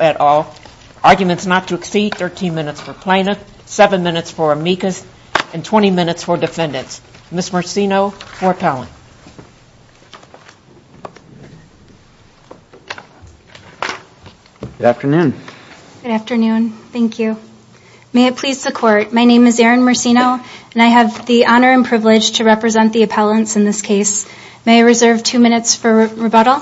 at all. Arguments not to exceed 13 minutes for plaintiff, 7 minutes for amicus, and 20 minutes for defendants. Ms. Marcino, for appellant. Good afternoon. Good afternoon. Thank you. May it please the court, my name is Erin Marcino and I have the honor and privilege to represent the appellants in this case. May I reserve two minutes for rebuttal?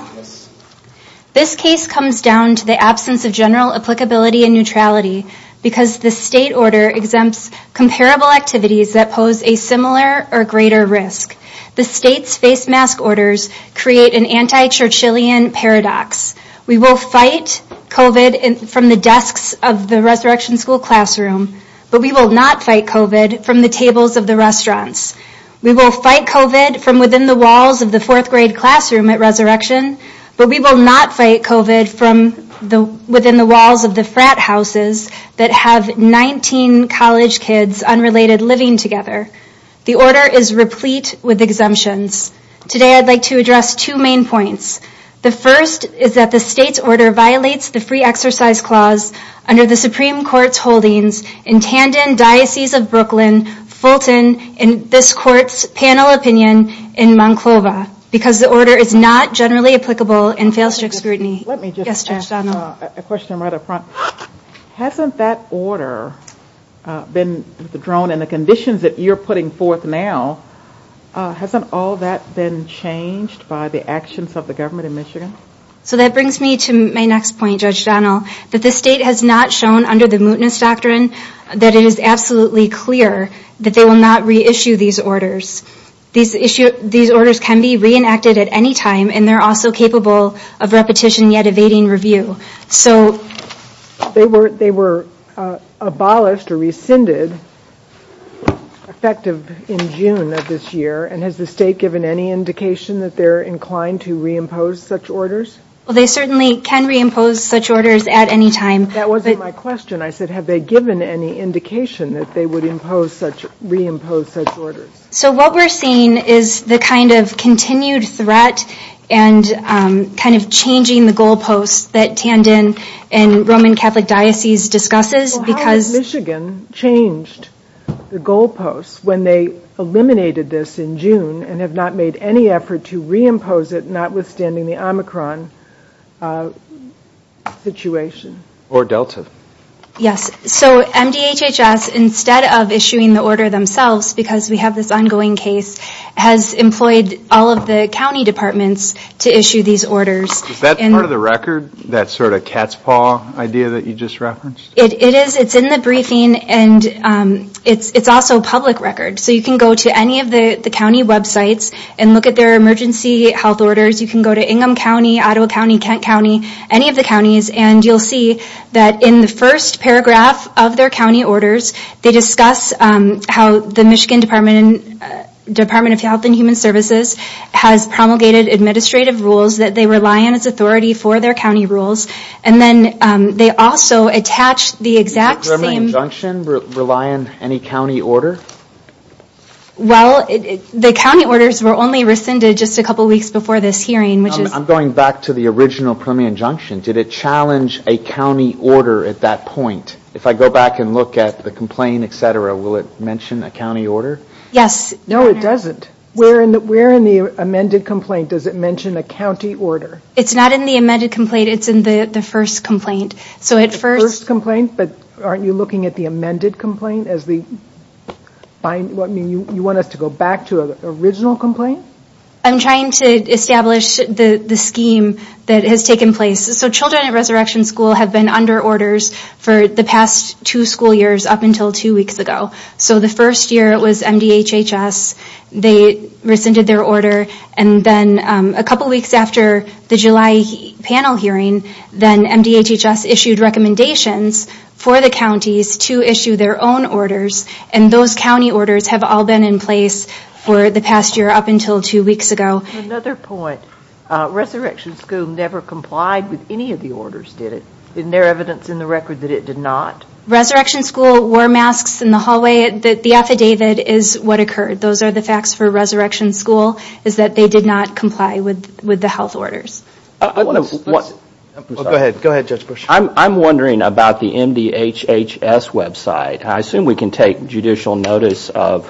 This case comes down to the absence of general applicability and neutrality because the state order exempts comparable activities that pose a similar or greater risk. The state's face mask orders create an anti-Churchillian paradox. We will fight COVID from the desks of the Resurrection School classroom, but we will not fight COVID from the tables of the restaurants. We will fight COVID from within the walls of the fourth grade classroom at Resurrection, but we will not fight COVID from the within the walls of the frat houses that have 19 college kids unrelated living together. The order is replete with exemptions. Today I'd like to address two main points. The first is that the state's order violates the free exercise clause under the Supreme Court's holdings in Brooklyn, Fulton, and this court's panel opinion in Monclova because the order is not generally applicable in failsafe scrutiny. Let me just ask a question rather prompt. Hasn't that order been drawn in the conditions that you're putting forth now, hasn't all that been changed by the actions of the government in Michigan? So that brings me to my next point, Judge Donnell, that the state has not shown under the mootness doctrine that it is absolutely clear that they will not reissue these orders. These orders can be reenacted at any time and they're also capable of repetition yet evading review. So they were abolished or rescinded effective in June of this year and has the state given any indication that they're inclined to reimpose such orders? Well they certainly can reimpose such orders at any time. That wasn't my question. I said have they given any indication that they would reimpose such orders? So what we're seeing is the kind of continued threat and kind of changing the goalposts that Camden and Roman Catholic Diocese discusses. How has Michigan changed the goalposts when they eliminated this in June and have not made any effort to reimpose it notwithstanding the Omicron situation? Or Delta. Yes, so MDHHS instead of issuing the order themselves because we have this ongoing case, has employed all of the county departments to issue these orders. Is that part of the record? That sort of cat's paw idea that you just referenced? It is. It's in the briefing and it's also public record. So you can go to any of the county websites and look at their emergency health orders. You can go to Ingham County, Ottawa County, Kent County, any of the counties and you'll see that in the first paragraph of their county orders they discuss how the Michigan Department of Health and Human Services has promulgated administrative rules that they rely on as authority for their county rules and then they also attach the exact same... Does their injunction rely on any of the county orders? No, it doesn't. Where in the amended complaint does it mention a county order? It's not in the amended complaint, it's in the first complaint. So it's first complaint, but aren't you looking at the amended complaint as the... You want it to go back to an original complaint? I'm trying to figure out if it's trying to establish the scheme that has taken place. So children at Resurrection School have been under orders for the past two school years up until two weeks ago. So the first year it was MDHHS. They rescinded their order and then a couple weeks after the July panel hearing then MDHHS issued recommendations for the counties to issue their own orders and those county orders have all been in for the past year up until two weeks ago. Another point, Resurrection School never complied with any of the orders, did it? Isn't there evidence in the record that it did not? Resurrection School wore masks in the hallway. The affidavit is what occurred. Those are the facts for Resurrection School is that they did not comply with with the health orders. I'm wondering about the MDHHS website. I assume we can take judicial notice of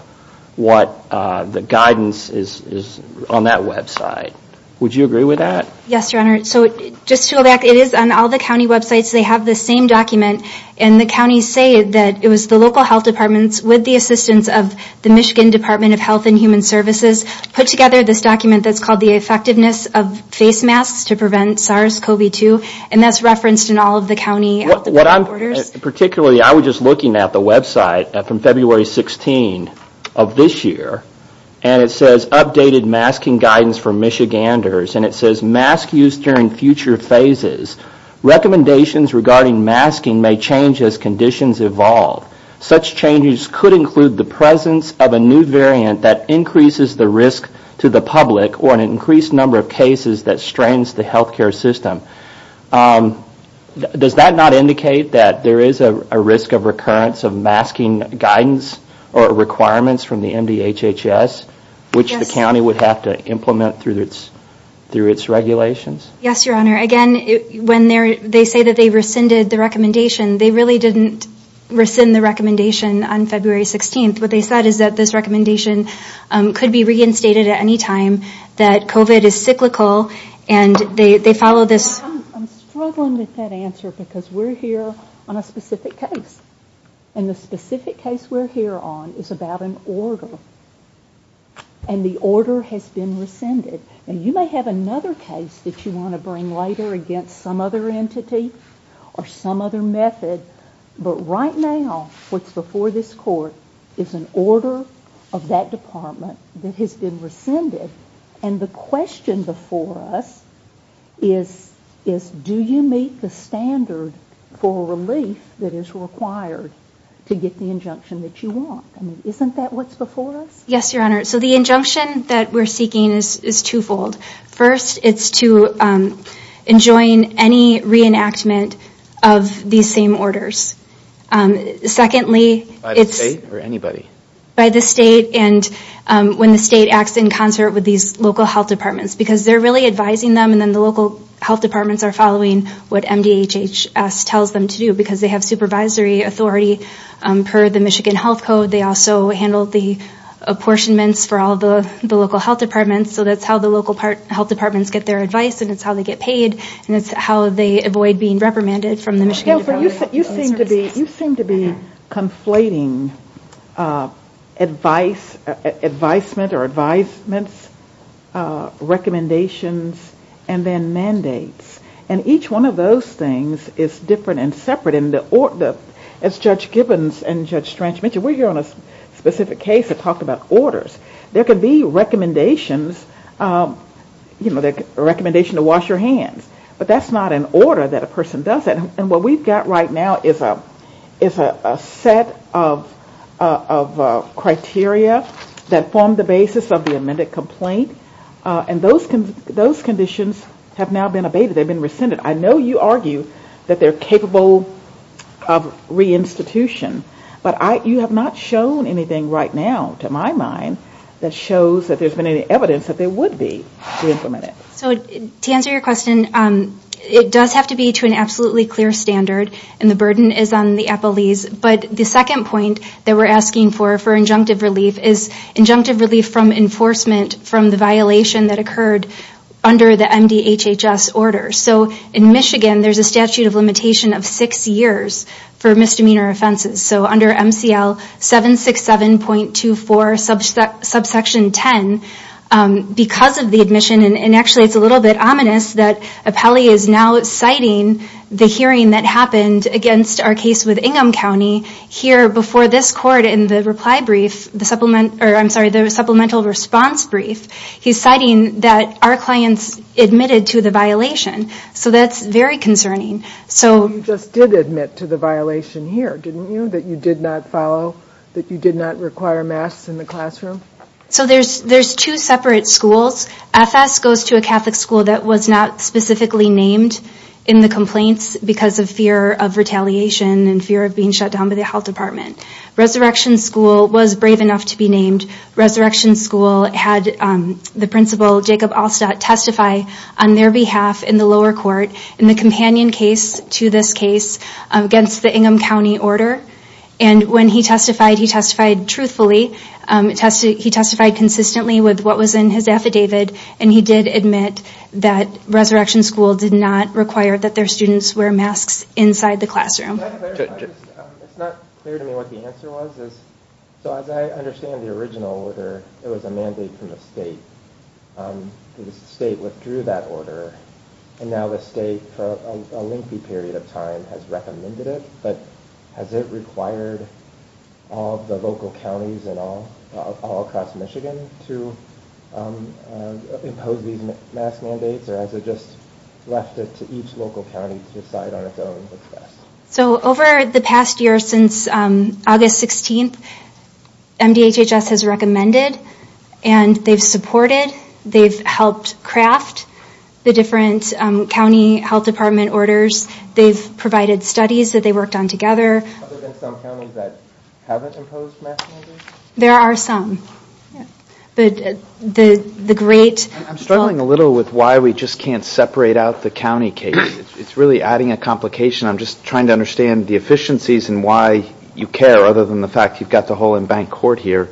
what the guidance is on that website. Would you agree with that? Yes, your honor. So just to go back, it is on all the county websites. They have the same document and the counties say that it was the local health departments with the assistance of the Michigan Department of Health and Human Services put together this document that's called the effectiveness of face masks to prevent SARS-CoV-2 and that's referenced in all of the county orders? Particularly, I was just looking at the website from February 16 of this year and it says updated masking guidance for Michiganders and it says mask use during future phases. Recommendations regarding masking may change as conditions evolve. Such changes could include the presence of a new variant that increases the risk to the public or an increased number of does that not indicate that there is a risk of recurrence of masking guidance or requirements from the MDHHS which the county would have to implement through its regulations? Yes, your honor. Again, when they say that they rescinded the recommendation, they really didn't rescind the recommendation on February 16th. What they said is that this recommendation could be reinstated at any time that COVID is cyclical and they follow this. I'm struggling with that answer because we're here on a specific case and the specific case we're here on is about an order and the order has been rescinded and you might have another case that you want to bring later against some other entity or some other method but right now what's before this court is an order of that department that has been rescinded and the question before us is do you meet the standards for a release that is required to get the injunction that you want? Isn't that what's before us? Yes, your honor. So the injunction that we're seeking is twofold. First, it's to enjoin any reenactment of these same orders. Secondly, by the state and when the state acts in concert with these local health departments because they're really advising them and then the local health departments are following what MDHHS tells them to do because they have supervisory authority per the Michigan Health Code. They also handle the apportionments for all the local health departments so that's how the local health departments get their advice and it's how they get paid and it's how they avoid being reprimanded from the Michigan Health Code. You seem to be conflating advice, advisement or advisements, recommendations and then mandates and each one of those things is different and separate in the order. As Judge Gibbons and Judge Strange mentioned, we're here on a specific case to talk about orders. There could be recommendations, you know, the recommendation to wash your hands but that's not an order that a person does it and what we've got right now is a set of criteria that form the basis of the amended complaint and those conditions have now been abated, they've been rescinded. I know you argue that they're capable of reinstitution but you have not shown anything right now to my mind that shows that there's been any evidence that there would be to implement it. To answer your question, it does have to be to an absolutely clear standard and the burden is on the appellees but the second point that we're asking for, for injunctive relief, is injunctive relief from enforcement from the violation that occurred under the MDHHS order. So in Michigan there's a statute of limitation of six years for because of the admission and actually it's a little bit ominous that a appellee is now citing the hearing that happened against our case with Ingham County here before this court in the reply brief, I'm sorry, the supplemental response brief. He's citing that our clients admitted to the violation so that's very concerning. So you just did admit to the violation here didn't you? That you did not follow, that you did not require masks in the classroom? So there's two separate schools. FS goes to a Catholic school that was not specifically named in the complaints because of fear of retaliation and fear of being shut down by the Health Department. Resurrection School was brave enough to be named. Resurrection School had the principal Jacob Alstadt testify on their behalf in the lower court in the companion case to this case against the Ingham County order and when he testified, he testified truthfully, he testified consistently with what was in his affidavit and he did admit that Resurrection School did not require that their students wear masks inside the classroom. It's not clear to me what the answer was. So as I understand the original order, there was a mandate from the state. The state withdrew that order and now the state for a lengthy period of time has recommended it but has it required all of the local counties and all across Michigan to impose these mask mandates or has it just left it to each local county to decide on its own? So over the past year since August 16th, MDHHS has recommended and they've supported, they've helped craft the different county health department orders, they've provided studies that they worked on together. There are some. I'm struggling a little with why we just can't separate out the county case. It's really adding a complication. I'm just trying to understand the efficiencies and why you care other than the fact you've got the whole in-bank court here.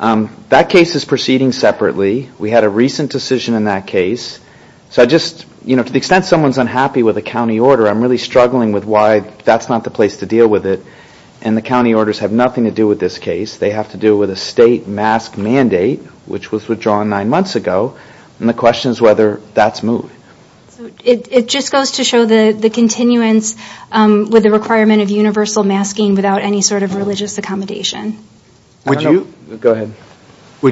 That case is proceeding separately. We had a recent decision in that case. So I just, you know, to the extent someone's unhappy with a county order, I'm really struggling with why that's not the place to deal with it and the county orders have nothing to do with this case. They have to deal with a state mask mandate which was withdrawn nine months ago and the question is whether that's moved. It just goes to show the continuance with the requirement of universal masking without any sort of religious accommodation. Would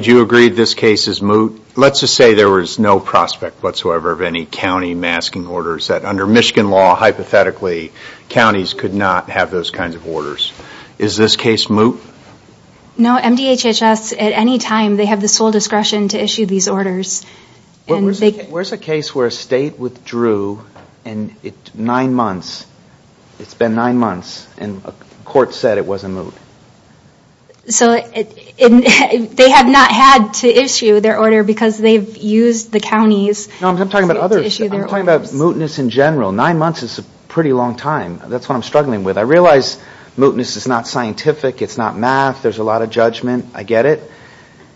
you agree this case is moot? Let's just say there was no prospect whatsoever of any county masking orders that under Michigan law, hypothetically, counties could not have those kinds of orders. Is this case moot? No. MDHHS, at any time, they have the sole discretion to issue these orders. Where's a case where a state withdrew and it's been nine months and the court said it wasn't moot? They have not had to issue their order because they've used the county's Let's talk about mootness in general. Nine months is a pretty long time. That's what I'm struggling with. I realize mootness is not scientific. It's not math. There's a lot of judgment. I get it.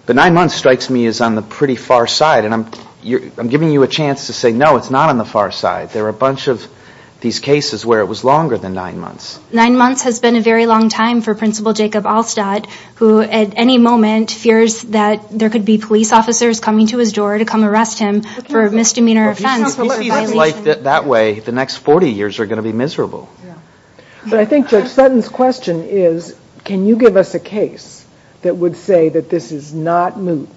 But nine months strikes me as on the pretty far side and I'm giving you a chance to say, no, it's not on the far side. There are a bunch of these cases where it was longer than nine months. Nine months has been a very long time for Principal Jacob Alstadt who, at any moment, fears that there could be police officers coming to his door to come arrest him for misdemeanor offense. That way, the next 40 years are going to be miserable. But I think Judge Sutton's question is, can you give us a case that would say that this is not moot,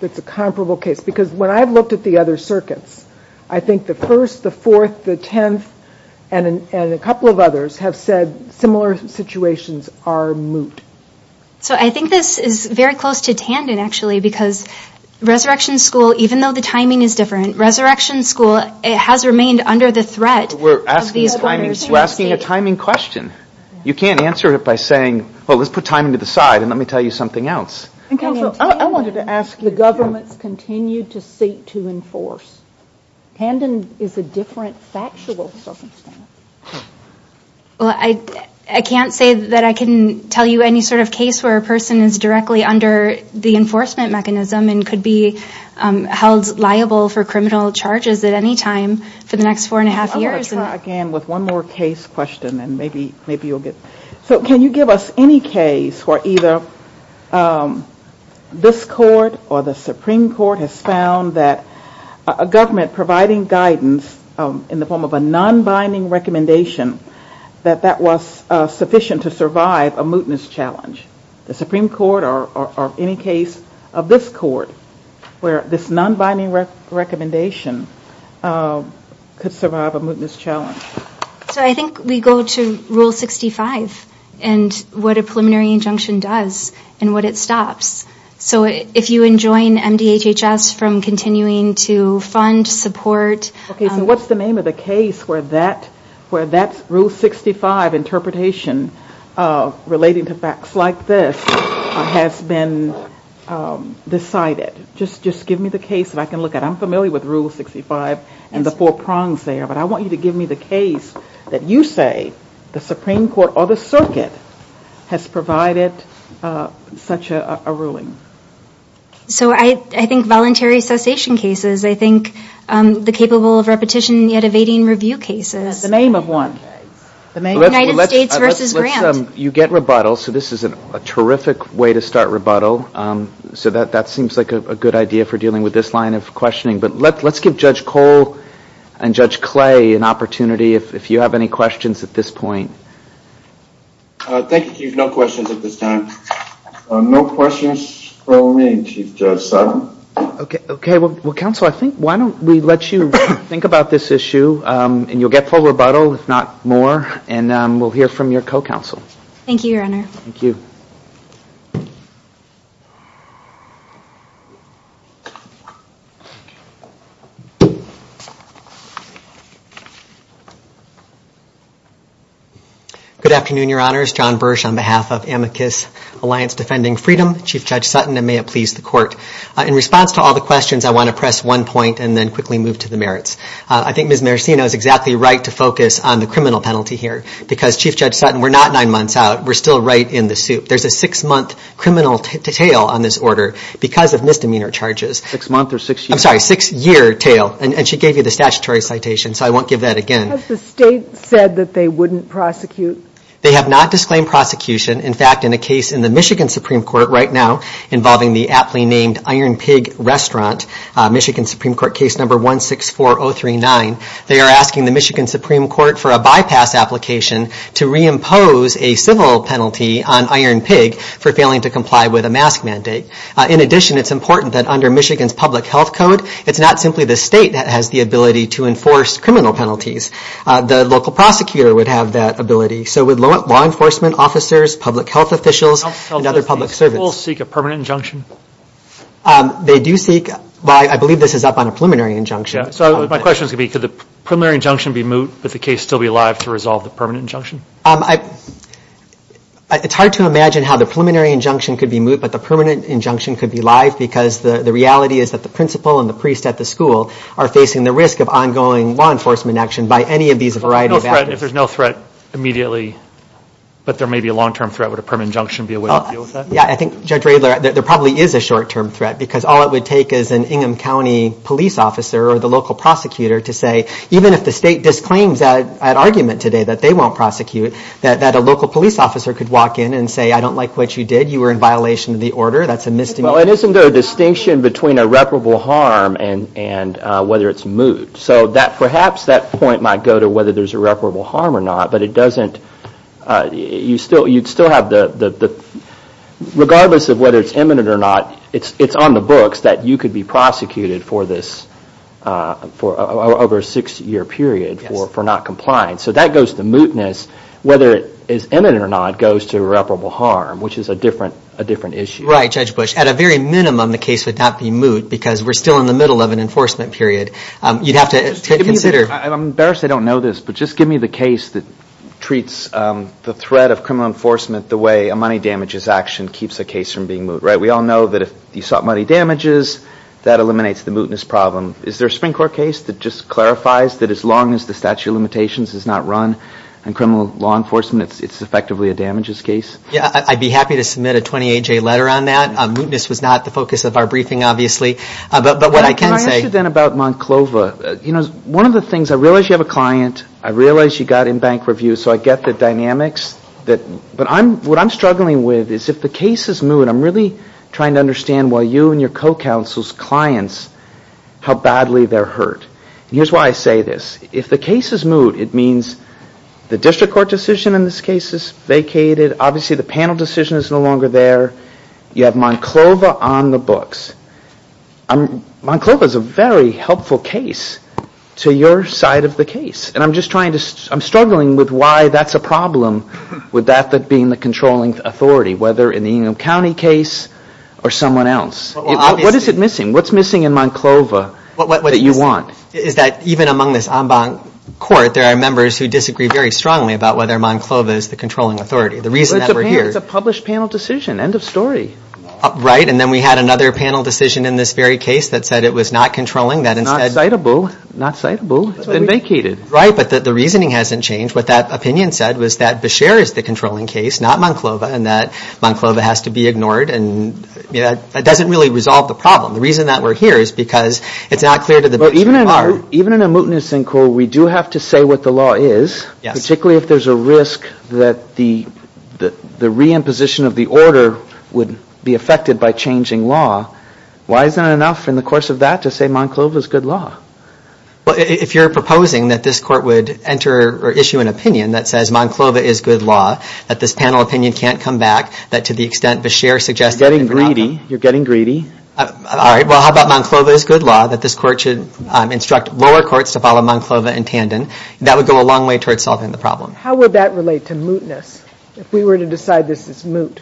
that's a comparable case? Because when I've looked at the other circuits, I think the first, the fourth, the tenth, and a couple of others have said similar situations are moot. So I think this is very close to Tandon, actually, because Resurrection School, even though the timing is different, Resurrection School has remained under the threat. We're asking a timing question. You can't answer it by saying, well, let's put timing to the side and let me tell you something else. I wanted to ask, do governments continue to seek to enforce? Tandon is a different factual circumstance. Well, I can't say that I can tell you any sort of case where a person is directly under the enforcement mechanism and could be held liable for criminal charges at any time for the next four and a half years. Let's try again with one more case question and maybe you'll get it. So can you give us any case where either this court or the Supreme Court has found that a government providing guidance in the form of a non-binding recommendation, that that was sufficient to survive a mootness challenge? The Supreme Court or any case of this court where this non-binding recommendation could survive a mootness challenge? So I think we go to Rule 65 and what a preliminary injunction does and what it stops. So if you enjoin MDHHS from continuing to fund, support... Okay, so what's the name of the case where that Rule 65 interpretation relating to facts like this has been decided? Just give me the case that I can look at. I'm familiar with Rule 65 and the four prongs there, but I want you to give me the case that you say the Supreme Court or the circuit has provided such a ruling. So I think voluntary cessation cases. I think the capable of repetition yet evading review cases. The name of one. United States v. Grant. You get rebuttal, so this is a terrific way to start rebuttal. So that seems like a good idea for dealing with this line of questioning. But let's give Judge Cole and Judge Clay an opportunity if you have any questions at this point. Thank you, Chief. No questions at this time. No questions for me, Chief Judge Stott. Okay. Well, counsel, I think why don't we let you think about this issue and you'll get full rebuttal, if not more, and we'll hear from your co-counsel. Thank you, Your Honor. Thank you. Good afternoon, Your Honors. John Bursch on behalf of Amicus Alliance Defending Freedom, Chief Judge Sutton, and may it please the Court. In response to all the questions, I want to press one point and then quickly move to the merits. I think Ms. Maracino is exactly right to focus on the criminal penalty here because, Chief Judge Sutton, we're not nine months out. We're still right in the soup. There's a six-month criminal tail on this order because of misdemeanor charges. Six months or six years? I'm sorry, six-year tail, and she gave you the statutory citation, so I won't give that again. Has the state said that they wouldn't prosecute? They have not disclaimed prosecution. In fact, in a case in the Michigan Supreme Court right now involving the aptly named Iron Pig Restaurant, Michigan Supreme Court case number 164039, they are asking the Michigan Supreme Court for a bypass application to reimpose a civil penalty on Iron Pig for failing to comply with a mask mandate. In addition, it's important that under Michigan's public health code, it's not simply the state that has the ability to enforce criminal penalties. The local prosecutor would have that ability. So would law enforcement officers, public health officials, and other public servants. Do people seek a permanent injunction? They do seek. I believe this is up on a preliminary injunction. My question is going to be could the preliminary injunction be moved but the case still be alive to resolve the permanent injunction? It's hard to imagine how the preliminary injunction could be moved but the permanent injunction could be live because the reality is that the principal and the priest at the school are facing the risk of ongoing law enforcement action by any of these a variety of factors. If there's no threat immediately, but there may be a long-term threat, would a permanent injunction be a way to deal with that? Yeah, I think there probably is a short-term threat because all it would take is an Ingham County police officer or the local prosecutor to say, even if the state disclaims that argument today that they won't prosecute, that a local police officer could walk in and say, I don't like what you did. You were in violation of the order. That's a misdemeanor. Isn't there a distinction between irreparable harm and whether it's moved? So perhaps that point might go to whether there's irreparable harm or not, but regardless of whether it's imminent or not, it's on the books that you could be prosecuted for over a six-year period for not complying. So that goes to mootness. Whether it is imminent or not goes to irreparable harm, which is a different issue. Right, Judge Bush. At a very minimum, the case would not be moot because we're still in the middle of an enforcement period. I'm embarrassed I don't know this, but just give me the case that treats the threat of criminal enforcement the way a money damages action keeps a case from being moot. We all know that if you sought money damages, that eliminates the mootness problem. Is there a Supreme Court case that just clarifies that as long as the statute of limitations is not run in criminal law enforcement, it's effectively a damages case? Yeah, I'd be happy to submit a 28-J letter on that. Mootness was not the focus of our briefing, obviously. Can I ask you then about Monclova? One of the things, I realize you have a client. I realize you got in bank review, so I get the dynamics. What I'm struggling with is if the case is moot, I'm really trying to understand why you and your co-counsel's clients, how badly they're hurt. Here's why I say this. If the case is moot, it means the district court decision in this case is vacated. Obviously, the panel decision is no longer there. You have Monclova on the books. Monclova is a very helpful case to your side of the case. I'm struggling with why that's a problem with that being the controlling authority, whether in the Enum County case or someone else. What is it missing? What's missing in Monclova that you want? Even among this en banc court, there are members who disagree very strongly about whether Monclova is the controlling authority. It's a published panel decision. End of story. Right, and then we had another panel decision in this very case that said it was not controlling. Not citable. Not citable. It's been vacated. Right, but the reasoning hasn't changed. What that opinion said was that Beshear is the controlling case, not Monclova, and that Monclova has to be ignored. That doesn't really resolve the problem. The reason that we're here is because it's not clear to the district court. Even in a mootness en court, we do have to say what the law is, particularly if there's a risk that the reimposition of the order would be affected by changing law. Why is there not enough in the course of that to say Monclova is good law? Well, if you're proposing that this court would enter or issue an opinion that says Monclova is good law, that this panel opinion can't come back, that to the extent Beshear suggests— You're getting greedy. You're getting greedy. All right, well, how about Monclova is good law, that this court should instruct lower courts to follow Monclova in tandem. That would go a long way towards solving the problem. How would that relate to mootness if we were to decide this is moot?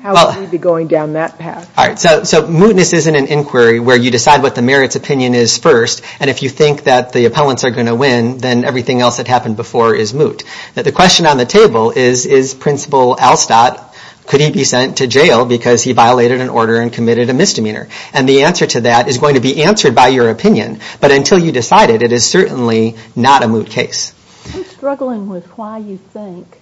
How would we be going down that path? All right, so mootness isn't an inquiry where you decide what the merits opinion is first, and if you think that the appellants are going to win, then everything else that happened before is moot. The question on the table is, is Principal Alstott—could he be sent to jail because he violated an order and committed a misdemeanor? And the answer to that is going to be answered by your opinion, but until you decide it, it is certainly not a moot case. I'm struggling with why you think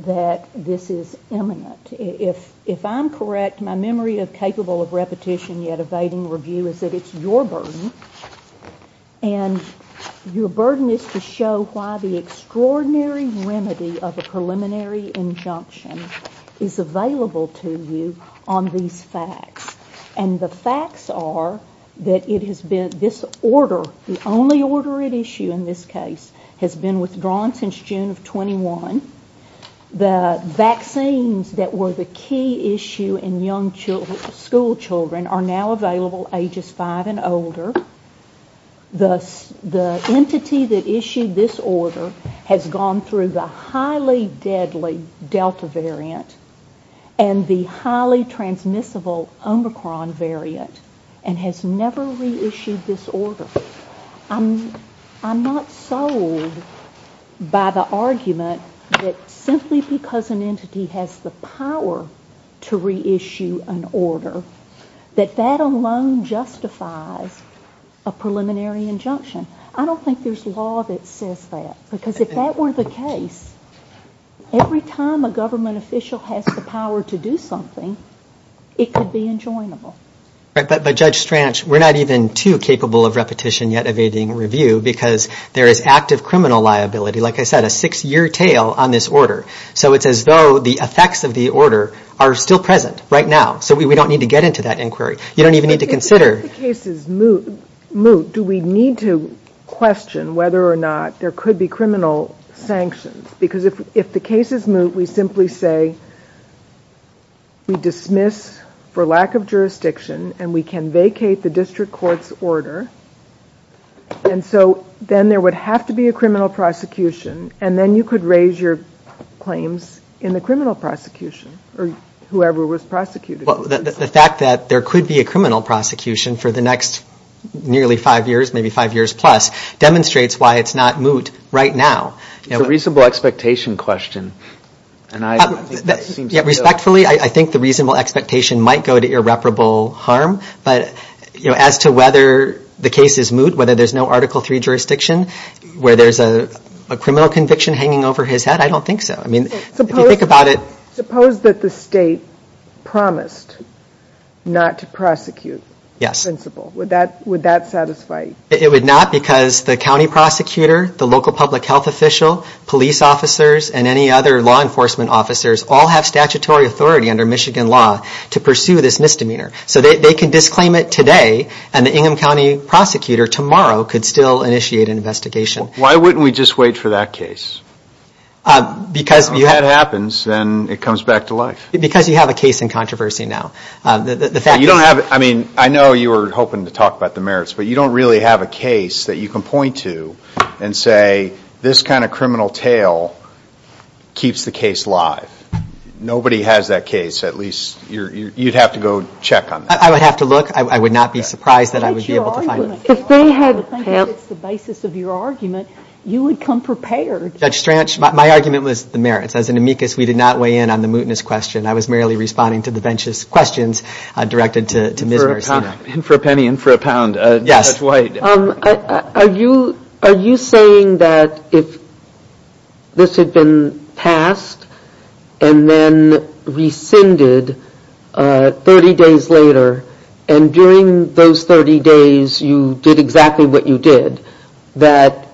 that this is imminent. If I'm correct, my memory is capable of repetition, yet evading review is that it's your burden, and your burden is to show why the extraordinary remedy of a preliminary injunction is available to you on these facts. And the facts are that it has been—this order, the only order at issue in this case, has been withdrawn since June of 21. The vaccines that were the key issue in young school children are now available ages 5 and older. The entity that issued this order has gone through the highly deadly Delta variant and the highly transmissible Omicron variant and has never reissued this order. I'm not sold by the argument that simply because an entity has the power to reissue an order, that that alone justifies a preliminary injunction. I don't think there's law that says that, because if that were the case, every time a government official has the power to do something, it could be enjoinable. But Judge Stranch, we're not even too capable of repetition, yet evading review, because there is active criminal liability, like I said, a six-year tail on this order. So it's as though the effects of the order are still present right now. So we don't need to get into that inquiry. You don't even need to consider— If the cases moot, do we need to question whether or not there could be criminal sanctions? Because if the cases moot, we simply say, we dismiss for lack of jurisdiction and we can vacate the district court's order. And so then there would have to be a criminal prosecution and then you could raise your claims in the criminal prosecution or whoever was prosecuted. The fact that there could be a criminal prosecution for the next nearly five years, maybe five years plus, demonstrates why it's not moot right now. It's a reasonable expectation question. Respectfully, I think the reasonable expectation might go to irreparable harm, but as to whether the case is moot, whether there's no Article III jurisdiction, where there's a criminal conviction hanging over his head, I don't think so. Suppose that the state promised not to prosecute the principal. Would that satisfy you? It would not because the county prosecutor, the local public health official, police officers, and any other law enforcement officers all have statutory authority under Michigan law to pursue this misdemeanor. So they can disclaim it today and the Ingham County prosecutor tomorrow could still initiate an investigation. Why wouldn't we just wait for that case? If that happens, then it comes back to life. Because you have a case in controversy now. I know you were hoping to talk about the merits, but you don't really have a case that you can point to and say, this kind of criminal tale keeps the case alive. Nobody has that case. At least you'd have to go check on that. I would have to look. I would not be surprised that I would be able to find one. If they had the basis of your argument, you would come prepared. Judge Stranch, my argument was the merits. As an amicus, we did not weigh in on the mootness question. I was merely responding to the bench's questions directed to Ms. For a penny and for a pound, Judge White. Are you saying that if this had been passed and then rescinded 30 days later, and during those 30 days you did exactly what you did, that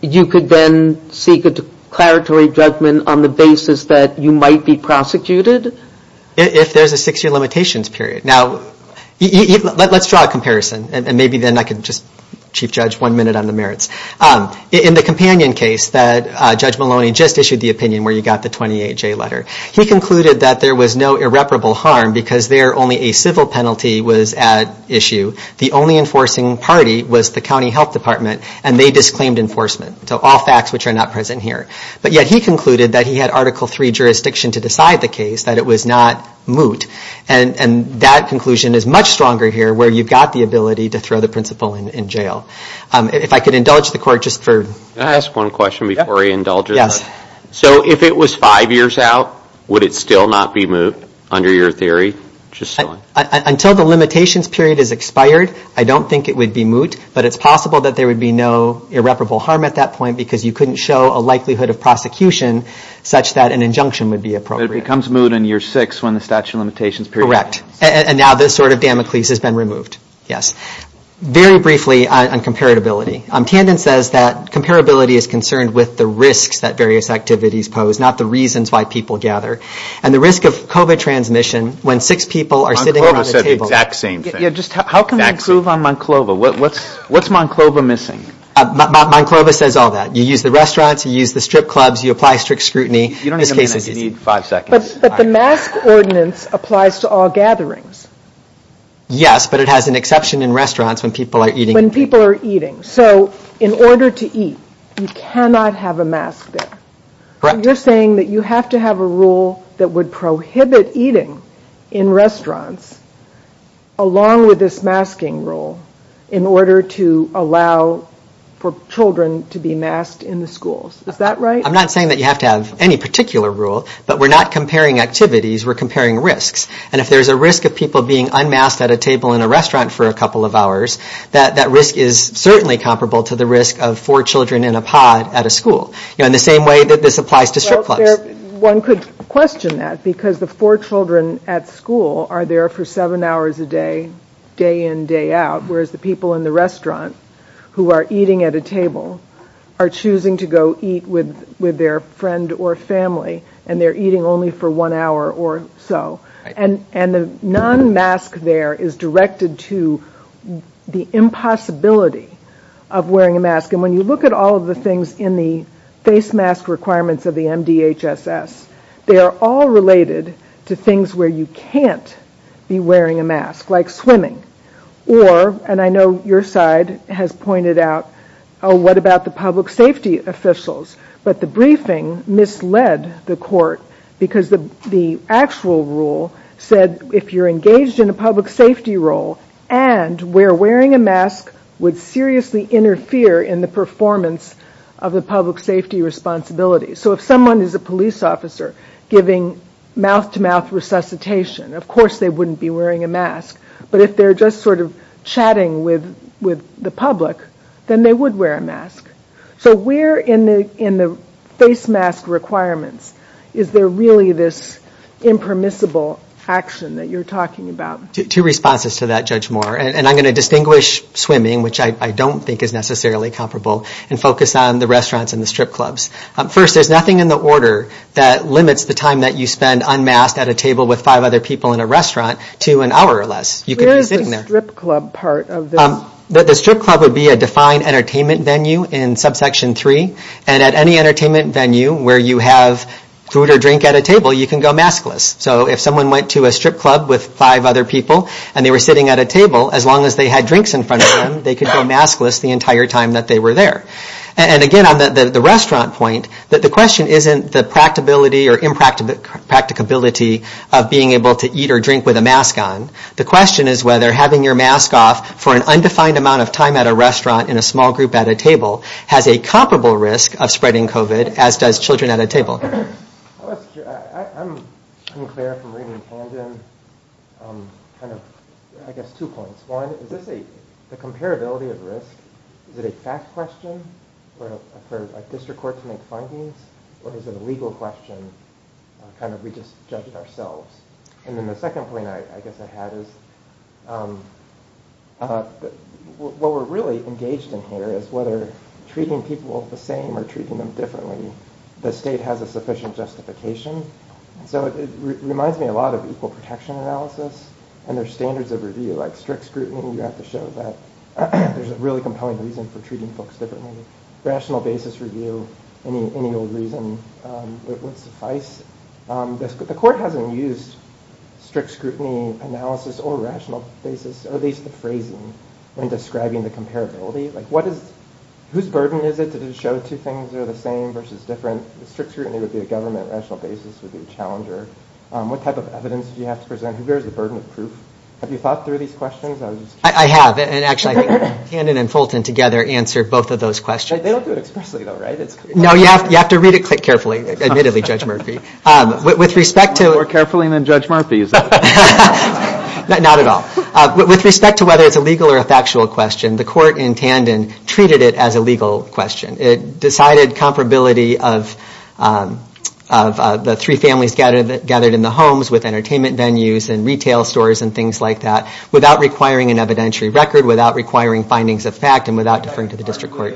you could then seek a declaratory judgment on the basis that you might be prosecuted? If there's a six-year limitations period. Now, let's draw a comparison, and maybe then I can just, Chief Judge, one minute on the merits. In the companion case that Judge Maloney just issued the opinion where you got the 28-J letter, he concluded that there was no irreparable harm because there only a civil penalty was at issue. The only enforcing party was the county health department, and they disclaimed enforcement. So all facts which are not present here. But yet he concluded that he had Article III jurisdiction to decide the case, that it was not moot. And that conclusion is much stronger here where you've got the ability to throw the principal in jail. If I could indulge the court just for... Can I ask one question before I indulge it? Yes. So if it was five years out, would it still not be moot under your theory? Until the limitations period is expired, I don't think it would be moot. But it's possible that there would be no irreparable harm at that point because you couldn't show a likelihood of prosecution such that an injunction would be appropriate. It becomes moot in year six when the statute of limitations period... Correct. And now this sort of damocles has been removed. Yes. Very briefly on comparability. Tandon says that comparability is concerned with the risk that various activities pose, not the reasons why people gather. And the risk of COVID transmission when six people are sitting around a table. Monclova says the exact same thing. How can I prove on Monclova? What's Monclova missing? Monclova says all that. You use the restaurants, you use the strip clubs, you apply strict scrutiny. You don't even need five seconds. But the mask ordinance applies to all gatherings. Yes, but it has an exception in restaurants when people are eating. When people are eating. So in order to eat, you cannot have a mask there. Correct. So you're saying that you have to have a rule that would prohibit eating in restaurants, along with this masking rule, in order to allow for children to be masked in the schools. Is that right? I'm not saying that you have to have any particular rule, but we're not comparing activities. We're comparing risks. And if there's a risk of people being unmasked at a table in a restaurant for a couple of hours, that risk is certainly comparable to the risk of four children in a pod at a school. In the same way that this applies to strip clubs. One could question that, because the four children at school are there for seven hours a day, day in, day out, whereas the people in the restaurant, who are eating at a table, are choosing to go eat with their friend or family, and they're eating only for one hour or so. And the non-mask there is directed to the impossibility of wearing a mask. And when you look at all of the things in the face mask requirements of the MDHSS, they are all related to things where you can't be wearing a mask, like swimming. Or, and I know your side has pointed out, what about the public safety officials? But the briefing misled the court, because the actual rule said if you're engaged in a public safety role and where wearing a mask would seriously interfere in the performance of the public safety responsibility. So if someone is a police officer giving mouth-to-mouth resuscitation, of course they wouldn't be wearing a mask. But if they're just sort of chatting with the public, then they would wear a mask. So where in the face mask requirements is there really this impermissible action that you're talking about? Two responses to that, Judge Moore. And I'm going to distinguish swimming, which I don't think is necessarily comparable, and focus on the restaurants and the strip clubs. First, there's nothing in the order that limits the time that you spend unmasked at a table with five other people in a restaurant to an hour or less. Where is the strip club part of this? The strip club would be a defined entertainment venue in Subsection 3. And at any entertainment venue where you have food or drink at a table, you can go maskless. So if someone went to a strip club with five other people and they were sitting at a table, as long as they had drinks in front of them, they could go maskless the entire time that they were there. And, again, on the restaurant point, the question isn't the practicability or impracticability of being able to eat or drink with a mask on. The question is whether having your mask off for an undefined amount of time at a restaurant in a small group at a table has a comparable risk of spreading COVID, as does children at a table. I'm unclear from reading the hand in. I guess two points. One, is this a comparability of risk? Is it a fact question? Are district courts going to make findings? Or is it a legal question? Are we just judging ourselves? And then the second point I guess I have is what we're really engaged in here is whether treating people the same or treating them differently, the state has a sufficient justification. So it reminds me a lot of equal protection analysis and their standards of review. Like strict scrutiny, you have to show that there's a really compelling reason for treating folks differently. Rational basis review, any old reason would suffice. The court hasn't used strict scrutiny analysis or rational basis, or at least the phrasing, in describing the comparability. Whose burden is it to show two things are the same versus different? Strict scrutiny would be a government, rational basis would be a challenger. What type of evidence do you have to present? Who bears the burden of proof? Have you thought through these questions? I have. And actually, I think Hannon and Fulton together answered both of those questions. They don't do it explicitly though, right? No, you have to read it carefully, admittedly, Judge Murphy. More carefully than Judge Murphy's. Not at all. With respect to whether it's a legal or a factual question, the court in Hannon treated it as a legal question. It decided comparability of the three families gathered in the homes with entertainment venues and retail stores and things like that without requiring an evidentiary record, without requiring findings of fact, and without deferring to the district court.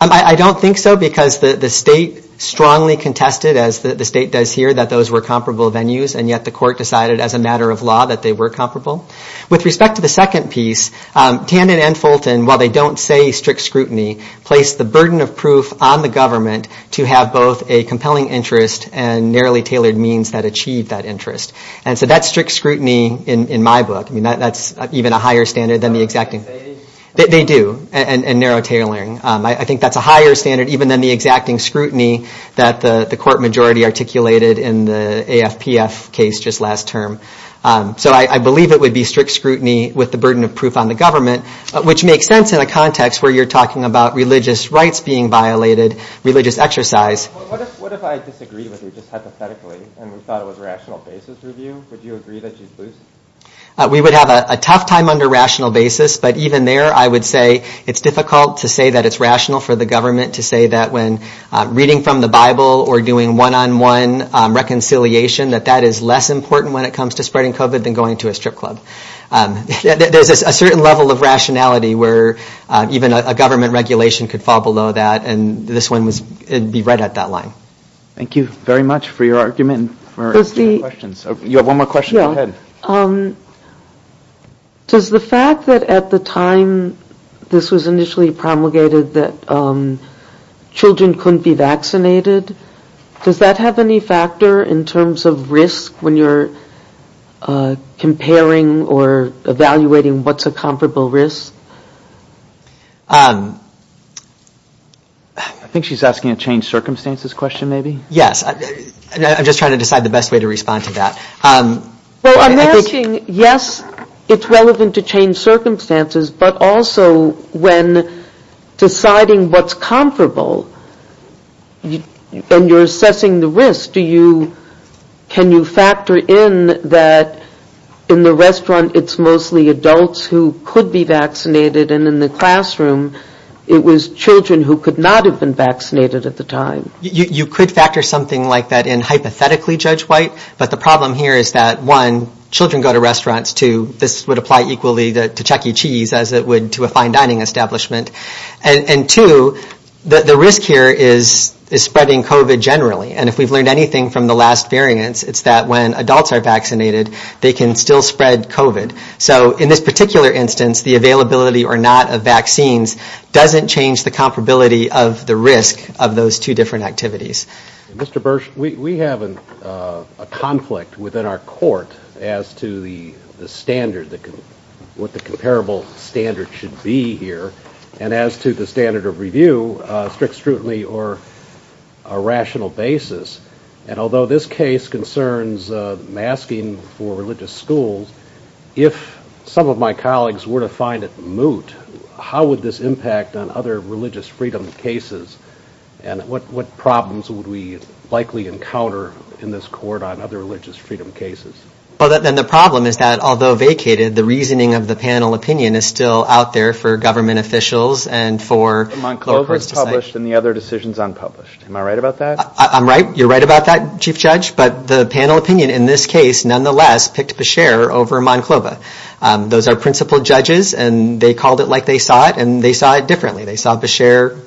I don't think so because the state strongly contested, as the state does here, that those were comparable venues, and yet the court decided as a matter of law that they were comparable. With respect to the second piece, Hannon and Fulton, while they don't say strict scrutiny, place the burden of proof on the government to have both a compelling interest and narrowly tailored means that achieve that interest. And so that's strict scrutiny in my book. That's even a higher standard than the exacting. They do, and narrow tailoring. I think that's a higher standard even than the exacting scrutiny that the court majority articulated in the AFPS case just last term. So I believe it would be strict scrutiny with the burden of proof on the government, which makes sense in a context where you're talking about religious rights being violated, religious exercise. We would have a tough time under rational basis, but even there I would say it's difficult to say that it's rational for the government to say that when reading from the Bible or doing one-on-one reconciliation that that is less important when it comes to spreading COVID than going to a strip club. There's a certain level of rationality where even a government regulation could fall below that, and this one would be right at that line. Thank you very much for your argument and for your questions. You have one more question. Go ahead. Does the fact that at the time this was initially promulgated that children couldn't be vaccinated, does that have any factor in terms of risk when you're comparing or evaluating what's a comparable risk? I think she's asking a changed circumstances question maybe. Yes. I'm just trying to decide the best way to respond to that. I'm asking, yes, it's relevant to change circumstances, but also when deciding what's comparable and you're assessing the risk, can you factor in that in the restaurant it's mostly adults who could be vaccinated and in the classroom it was children who could not have been vaccinated at the time? You could factor something like that in hypothetically, Judge White, but the problem here is that, one, children go to restaurants, too. This would apply equally to Chuck E. Cheese as it would to a fine dining establishment. And, two, the risk here is spreading COVID generally, and if we've learned anything from the last variance, it's that when adults are vaccinated, they can still spread COVID. So in this particular instance, the availability or not of vaccines doesn't change the comparability of the risk of those two different activities. Mr. Bursch, we have a conflict within our court as to the standard, what the comparable standard should be here, and as to the standard of review, strict scrutiny or a rational basis. And although this case concerns masking for religious schools, if some of my colleagues were to find it moot, how would this impact on other religious freedom cases and what problems would we likely encounter in this court on other religious freedom cases? Well, then the problem is that, although vacated, the reasoning of the panel opinion is still out there for government officials and for… The Monclova was published and the other decision is unpublished. Am I right about that? I'm right. You're right about that, Chief Judge. But the panel opinion in this case, nonetheless, picked Beshear over Monclova. Those are principal judges, and they called it like they saw it, and they saw it differently. They saw Beshear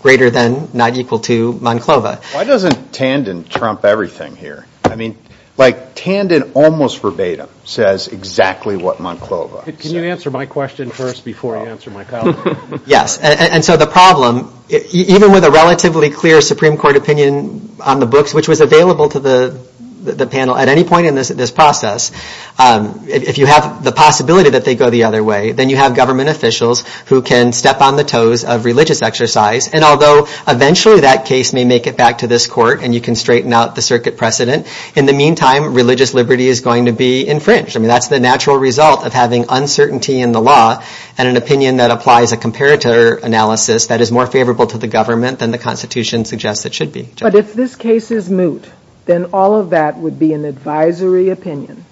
greater than, not equal to, Monclova. Why doesn't Tandon trump everything here? I mean, like Tandon almost verbatim says exactly what Monclova says. Can you answer my question first before I answer my colleague? Yes. And so the problem, even with a relatively clear Supreme Court opinion on the books, which was available to the panel at any point in this process, if you have the possibility that they go the other way, then you have government officials who can step on the toes of religious exercise. And although eventually that case may make it back to this court and you can straighten out the circuit precedent, in the meantime, religious liberty is going to be infringed. I mean, that's the natural result of having uncertainty in the law and an opinion that applies a comparator analysis that is more favorable to the government than the Constitution suggests it should be. But if this case is moot, then all of that would be an advisory opinion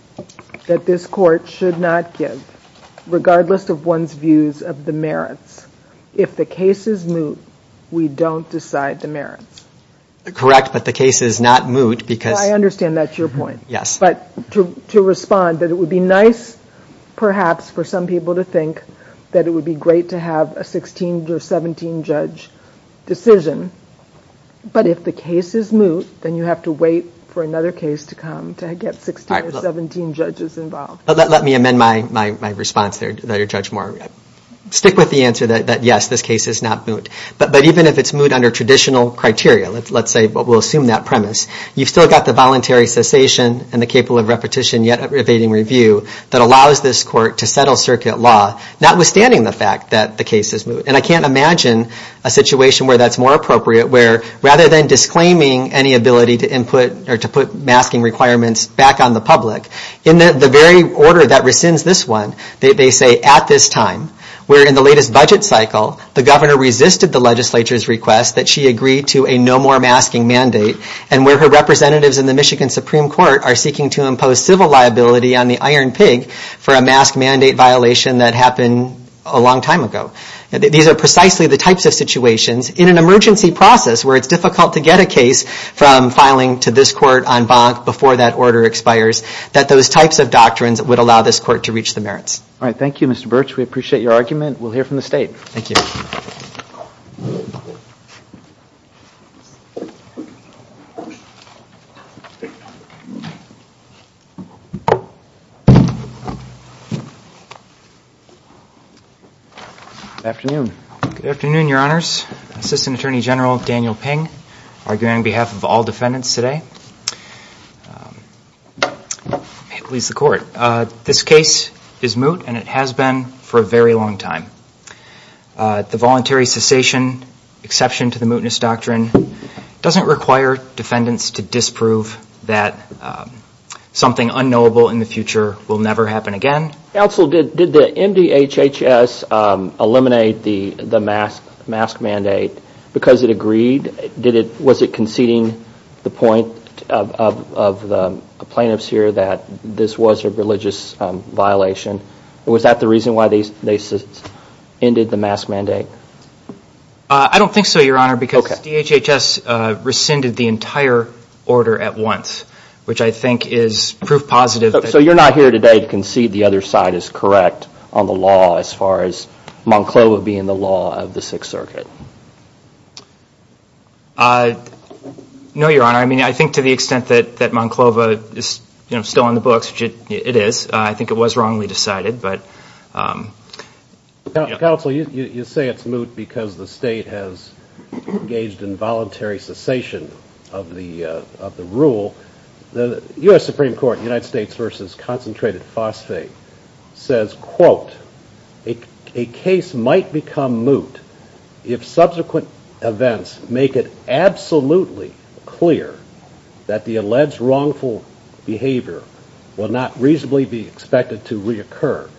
that this court should not give, regardless of one's views of the merits. If the case is moot, we don't decide the merits. Correct, but the case is not moot because... I understand that's your point. Yes. But to respond, that it would be nice perhaps for some people to think that it would be great to have a 16 or 17 judge decision, but if the case is moot, then you have to wait for another case to come to get 16 or 17 judges involved. Let me amend my response there, Judge Moore. Stick with the answer that, yes, this case is not moot. But even if it's moot under traditional criteria, let's say, but we'll assume that premise, you've still got the voluntary cessation and the capable of repetition yet abating review that allows this court to settle circuit law, notwithstanding the fact that the case is moot. And I can't imagine a situation where that's more appropriate, where rather than disclaiming any ability to input or to put masking requirements back on the public, in the very order that rescinds this one, they say at this time, where in the latest budget cycle, the governor resisted the legislature's request that she agree to a no more masking mandate and where her representatives in the Michigan Supreme Court are seeking to impose civil liability on the iron pig for a mask mandate violation that happened a long time ago. These are precisely the types of situations. In an emergency process where it's difficult to get a case from filing to this court on bond before that order expires, that those types of doctrines would allow this court to reach the merits. All right. Thank you, Mr. Birch. We appreciate your argument. We'll hear from the state. Thank you. Good afternoon. Good afternoon, Your Honors. Assistant Attorney General Daniel Ping arguing on behalf of all defendants today. This case is moot and it has been for a very long time. The voluntary cessation exception to the mootness doctrine doesn't require defendants to disprove that something unknowable in the future will never happen again. Counsel, did the MDHHS eliminate the mask mandate because it agreed? Was it conceding the point of the plaintiffs here that this was a religious violation? Was that the reason why they ended the mask mandate? I don't think so, Your Honor, because the HHS rescinded the entire order at once, which I think is proof positive. So you're not here today to concede the other side is correct on the law as far as Monclova being the law of the Sixth Circuit? No, Your Honor. I mean, I think to the extent that Monclova is still on the books, it is. I think it was wrongly decided. Counsel, you say it's moot because the state has engaged in voluntary cessation of the rule. The U.S. Supreme Court, United States v. Concentrated Phosphate, says, quote, a case might become moot if subsequent events make it absolutely clear that the alleged wrongful behavior will not reasonably be expected to reoccur.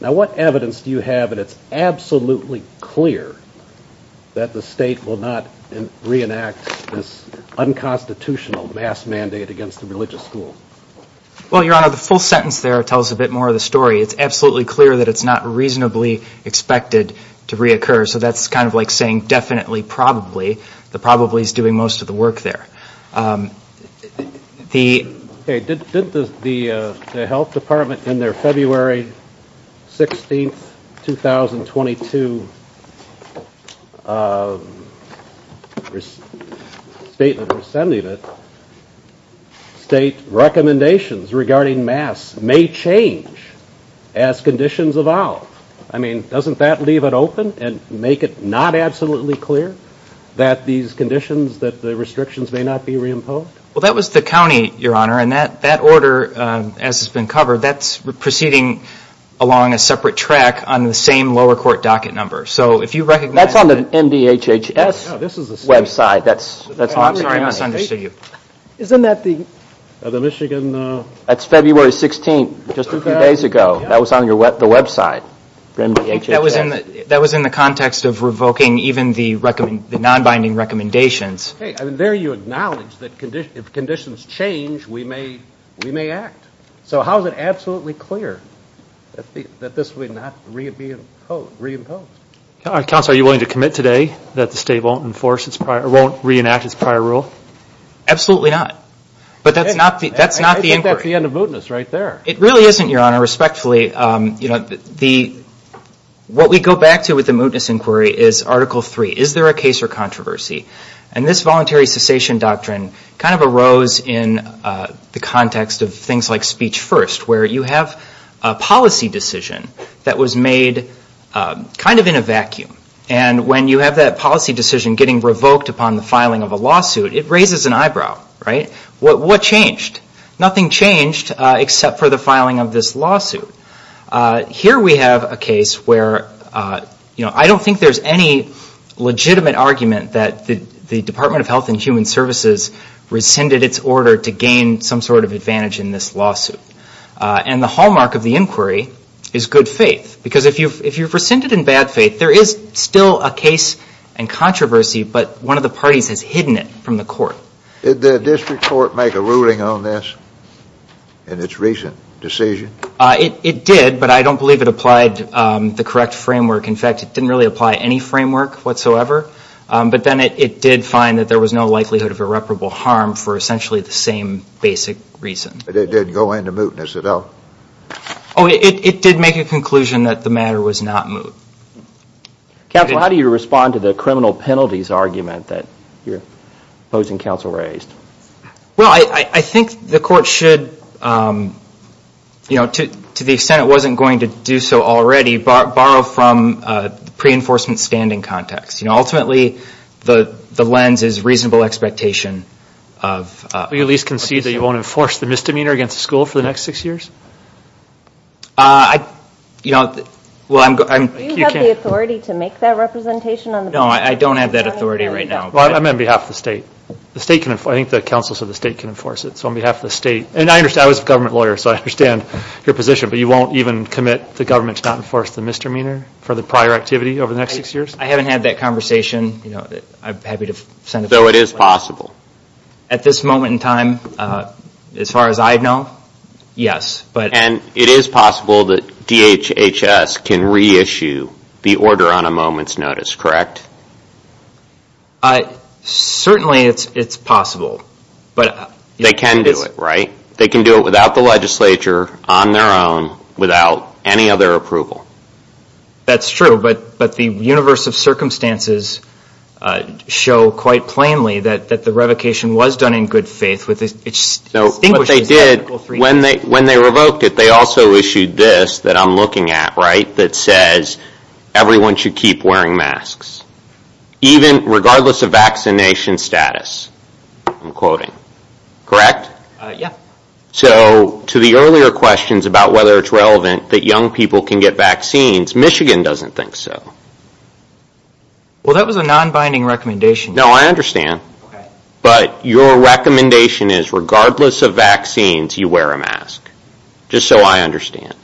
Now, what evidence do you have that it's absolutely clear that the state will not reenact this unconstitutional mask mandate against the religious school? Well, Your Honor, the full sentence there tells a bit more of the story. It's absolutely clear that it's not reasonably expected to reoccur. So that's kind of like saying definitely, probably. The probably is doing most of the work there. Did the health department in their February 16, 2022 statement of independence state recommendations regarding masks may change as conditions evolve? I mean, doesn't that leave it open and make it not absolutely clear that these conditions, that the restrictions may not be reimposed? Well, that was the county, Your Honor, and that order, as it's been covered, that's proceeding along a separate track on the same lower court docket number. So if you recognize... That's on the MDHHS website. Sorry, I'm not trying to see you. Isn't that the Michigan... That's February 16, just a few days ago. That was on the website, MDHHS. That was in the context of revoking even the non-binding recommendations. And there you acknowledge that if conditions change, we may act. So how is it absolutely clear that this will not be reimposed? Counsel, are you willing to commit today that the state won't enforce its prior, won't reenact its prior rule? Absolutely not. But that's not the... I think that's the end of mootness right there. It really isn't, Your Honor. Respectfully, what we go back to with the mootness inquiry is Article III. Is there a case or controversy? And this voluntary cessation doctrine kind of arose in the context of things like Speech First, where you have a policy decision that was made kind of in a vacuum. And when you have that policy decision getting revoked upon the filing of a lawsuit, it raises an eyebrow, right? What changed? Nothing changed except for the filing of this lawsuit. Here we have a case where, you know, I don't think there's any legitimate argument that the Department of Health and Human Services rescinded its order to gain some sort of advantage in this lawsuit. And the hallmark of the inquiry is good faith. Because if you've rescinded in bad faith, there is still a case and controversy, but one of the parties has hidden it from the court. Did the district court make a ruling on this in its recent decision? It did, but I don't believe it applied the correct framework. In fact, it didn't really apply any framework whatsoever. But then it did find that there was no likelihood of irreparable harm for essentially the same basic reason. Did it go into mootness at all? It did make a conclusion that the matter was not moot. Counsel, how do you respond to the criminal penalties argument that your opposing counsel raised? Well, I think the court should, you know, to the extent it wasn't going to do so already, borrow from the pre-enforcement standing context. You know, ultimately, the lens is reasonable expectation of... You at least concede that you won't enforce the misdemeanor against the school for the next six years? You know, well, I'm... Do you have the authority to make that representation? No, I don't have that authority right now. Well, I'm on behalf of the state. I think the counsels of the state can enforce it, so on behalf of the state. And I understand, I was a government lawyer, so I understand your position, but you won't even commit the government's not enforced the misdemeanor for the prior activity over the next six years? I haven't had that conversation. I'm happy to send... So it is possible? At this moment in time, as far as I know, yes, but... And it is possible that DHHS can reissue the order on a moment's notice, correct? Certainly it's possible, but... They can do it, right? They can do it without the legislature, on their own, without any other approval. That's true, but the universe of circumstances show quite plainly that the revocation was done in good faith. So what they did, when they revoked it, they also issued this that I'm looking at, right, that says everyone should keep wearing masks, even regardless of vaccination status. I'm quoting. Correct? Yeah. So to the earlier questions about whether it's relevant that young people can get vaccines, Michigan doesn't think so. Well, that was a non-binding recommendation. No, I understand. Okay. But your recommendation is regardless of vaccines, you wear a mask, just so I understand.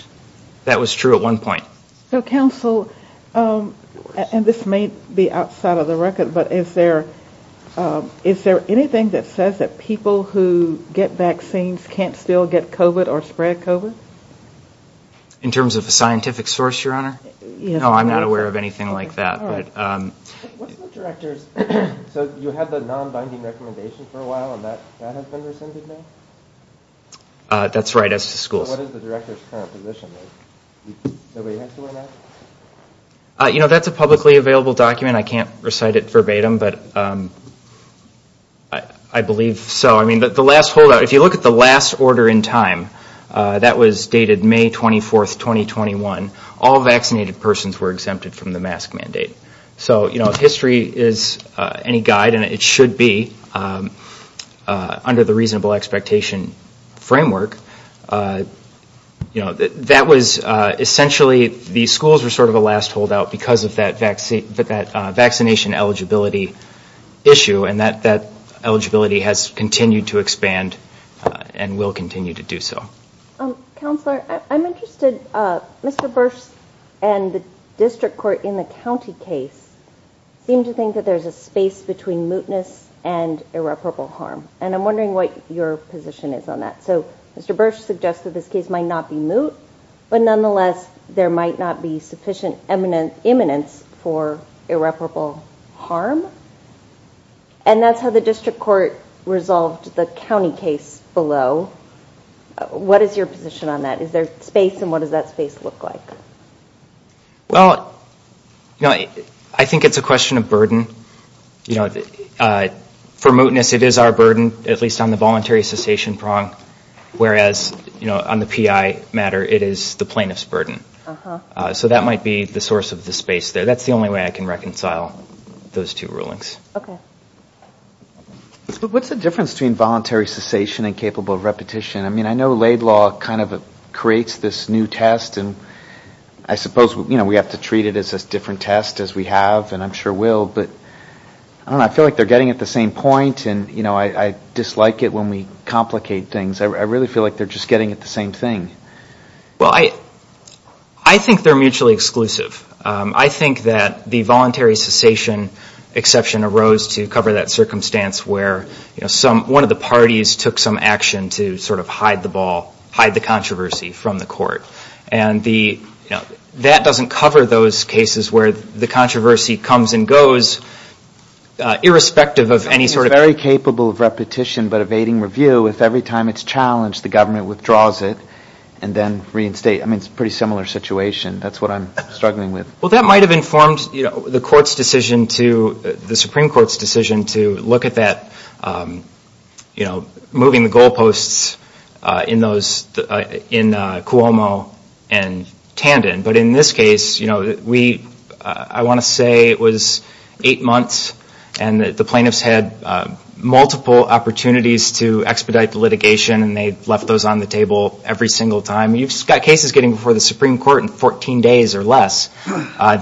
That was true at one point. So, counsel, and this may be outside of the record, but is there anything that says that people who get vaccines can't still get COVID or spread COVID? In terms of the scientific source, Your Honor? Yes. No, I'm not aware of anything like that, but... So you had the non-binding recommendation for a while, and that has been rescinded now? That's right, that's the schools. What is the director's current position? You know, that's a publicly available document. I can't recite it verbatim, but I believe so. I mean, if you look at the last order in time, that was dated May 24th, 2021. All vaccinated persons were exempted from the mask mandate. So, you know, if history is any guide, and it should be under the reasonable expectation framework, you know, that was essentially the schools were sort of the last holdout because of that vaccination eligibility issue, and that eligibility has continued to expand and will continue to do so. Counselor, I'm interested, Mr. Bursch and the district court in the county case seem to think that there's a space between mootness and irreparable harm, and I'm wondering what your position is on that. So, Mr. Bursch suggests that this case might not be moot, but nonetheless, there might not be sufficient eminence for irreparable harm. And that's how the district court resolved the county case below. What is your position on that? Is there space, and what does that space look like? Well, you know, I think it's a question of burden. You know, for mootness, it is our burden, at least on the voluntary cessation prong, whereas, you know, on the PI matter, it is the plaintiff's burden. So that might be the source of the space there. That's the only way I can reconcile those two rulings. Okay. What's the difference between voluntary cessation and capable repetition? I mean, I know laid law kind of creates this new test, and I suppose, you know, we have to treat it as a different test as we have, and I'm sure will, but I don't know. I feel like they're getting at the same point, and, you know, I dislike it when we complicate things. I really feel like they're just getting at the same thing. Well, I think they're mutually exclusive. I think that the voluntary cessation exception arose to cover that circumstance where, you know, one of the parties took some action to sort of hide the ball, hide the controversy from the court, and that doesn't cover those cases where the controversy comes and goes irrespective of any sort of – the government withdraws it and then reinstates it. I mean, it's a pretty similar situation. That's what I'm struggling with. Well, that might have informed, you know, the Supreme Court's decision to look at that, you know, moving the goal posts in Cuomo and Tandon, but in this case, you know, I want to say it was eight months and the plaintiffs had multiple opportunities to expedite the litigation, and they left those on the table every single time. You've got cases getting before the Supreme Court in 14 days or less.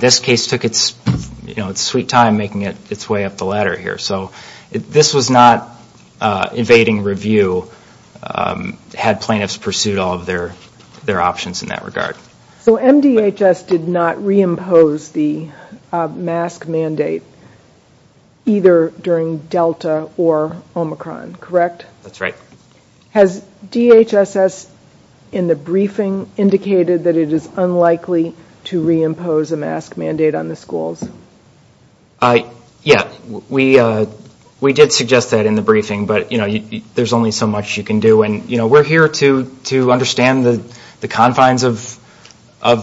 This case took its, you know, its sweet time making its way up the ladder here, so this was not evading review had plaintiffs pursued all of their options in that regard. So MDHS did not reimpose the mask mandate either during Delta or Omicron, correct? That's right. Has DHSS in the briefing indicated that it is unlikely to reimpose a mask mandate on the schools? Yes, we did suggest that in the briefing, but, you know, there's only so much you can do, and, you know, we're here to understand the confines of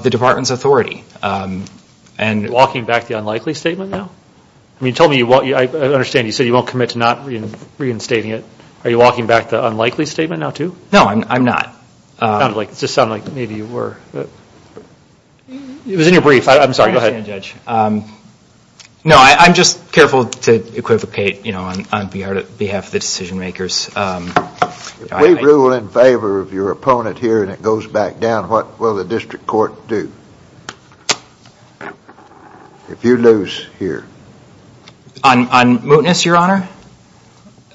the department's authority. Are you walking back the unlikely statement now? I mean, you told me you won't, I understand you said you won't commit to not reinstating it. Are you walking back the unlikely statement now too? No, I'm not. It sounds like, it just sounded like maybe you were. It was in your brief. I'm sorry. Go ahead. No, I'm just careful to equivocate, you know, on behalf of the decision makers. If we rule in favor of your opponent here and it goes back down, what will the district court do if you lose here? On mootness, Your Honor?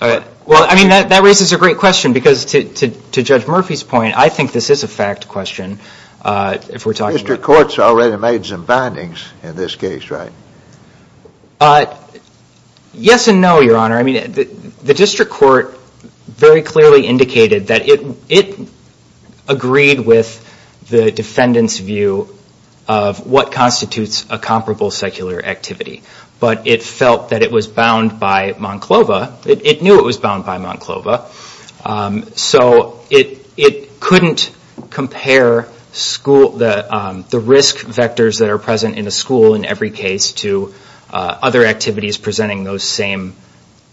Well, I mean, that raises a great question, because to Judge Murphy's point, I think this is a fact question. The district court's already made some findings in this case, right? Yes and no, Your Honor. I mean, the district court very clearly indicated that it agreed with the defendant's view of what constitutes a comparable secular activity, but it felt that it was bound by Monclova, it knew it was bound by Monclova, so it couldn't compare the risk vectors that are present in a school in every case to other activities presenting those same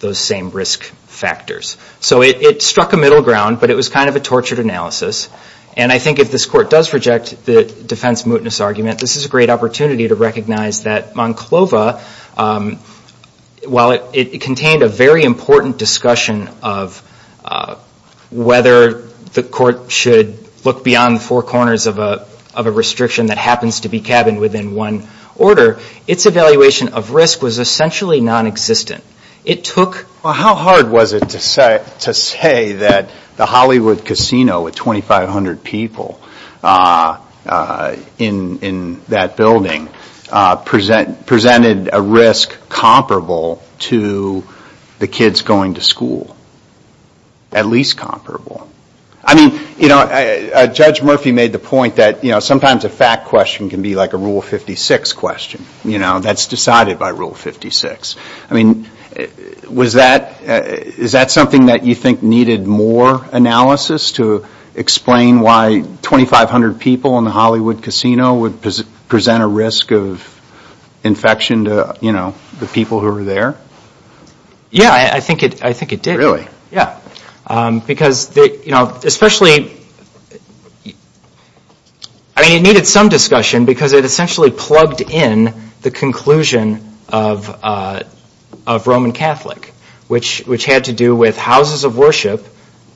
risk factors. So it struck a middle ground, but it was kind of a tortured analysis, and I think if this court does reject the defense mootness argument, this is a great opportunity to recognize that Monclova, while it contained a very important discussion of whether the court should look beyond four corners of a restriction that happens to be cabined within one order, its evaluation of risk was essentially nonexistent. How hard was it to say that the Hollywood Casino with 2,500 people in that building presented a risk comparable to the kids going to school? At least comparable. I mean, Judge Murphy made the point that sometimes a fact question can be like a Rule 56 question. That's decided by Rule 56. I mean, is that something that you think needed more analysis to explain why 2,500 people in the Hollywood Casino would present a risk of infection to the people who were there? Yeah, I think it did. Really? Yeah. Especially, I mean, it needed some discussion because it essentially plugged in the conclusion of Roman Catholic, which had to do with houses of worship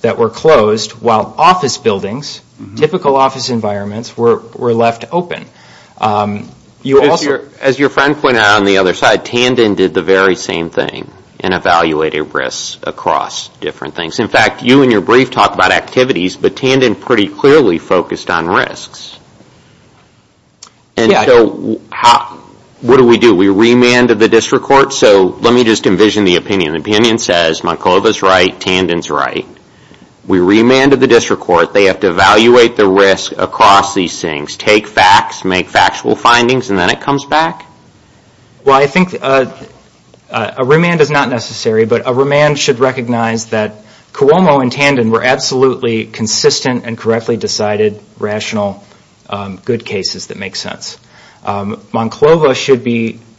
that were closed while office buildings, typical office environments, were left open. As your friend pointed out on the other side, Tandon did the very same thing in evaluating risks across different things. In fact, you in your brief talked about activities, but Tandon pretty clearly focused on risks. And so what do we do? We remanded the district court. So let me just envision the opinion. The opinion says Markova's right, Tandon's right. We remanded the district court. They have to evaluate the risk across these things, take facts, make factual findings, and then it comes back. Well, I think a remand is not necessary, but a remand should recognize that Cuomo and Tandon were absolutely consistent and correctly decided rational good cases that make sense. Monclova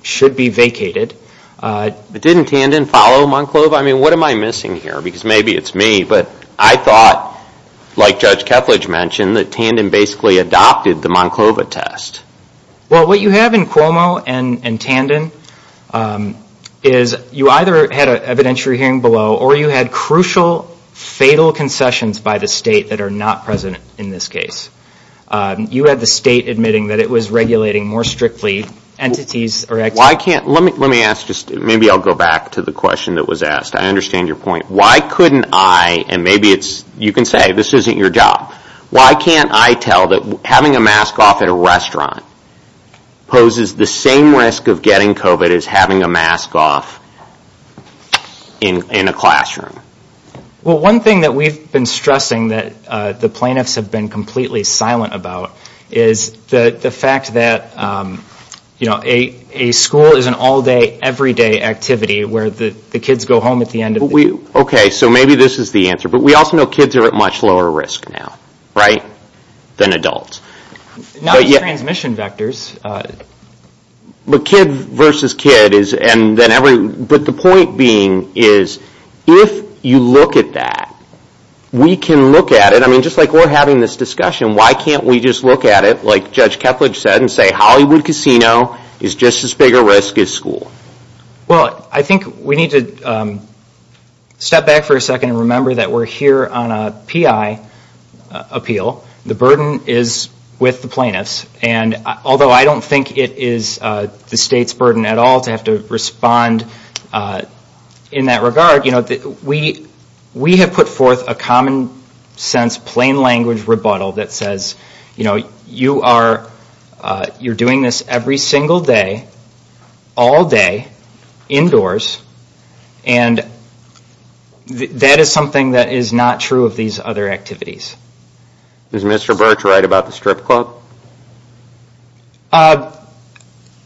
should be vacated. But didn't Tandon follow Monclova? I mean, what am I missing here? Because maybe it's me, but I thought, like Judge Kepledge mentioned, that Tandon basically adopted the Monclova test. Well, what you have in Cuomo and Tandon is you either had an evidentiary hearing below or you had crucial fatal concessions by the state that are not present in this case. You had the state admitting that it was regulating more strictly entities. Let me ask this. Maybe I'll go back to the question that was asked. I understand your point. Why couldn't I, and maybe you can say this isn't your job, why can't I tell that having a mask off at a restaurant poses the same risk of getting COVID as having a mask off in a classroom? Well, one thing that we've been stressing that the plaintiffs have been completely silent about is the fact that, you know, a school is an all-day, everyday activity where the kids go home at the end of the day. Okay, so maybe this is the answer. But we also know kids are at much lower risk now, right, than adults. Not transmission vectors. But kid versus kid, but the point being is if you look at that, we can look at it. I mean, just like we're having this discussion. Why can't we just look at it like Judge Kepledge said and say Hollywood Casino is just as big a risk as school? Well, I think we need to step back for a second and remember that we're here on a PI appeal. The burden is with the plaintiffs. And although I don't think it is the state's burden at all to have to respond in that regard, you know, we have put forth a common sense, plain language rebuttal that says, you know, indoors, and that is something that is not true of these other activities. Is Mr. Birch right about the strip club?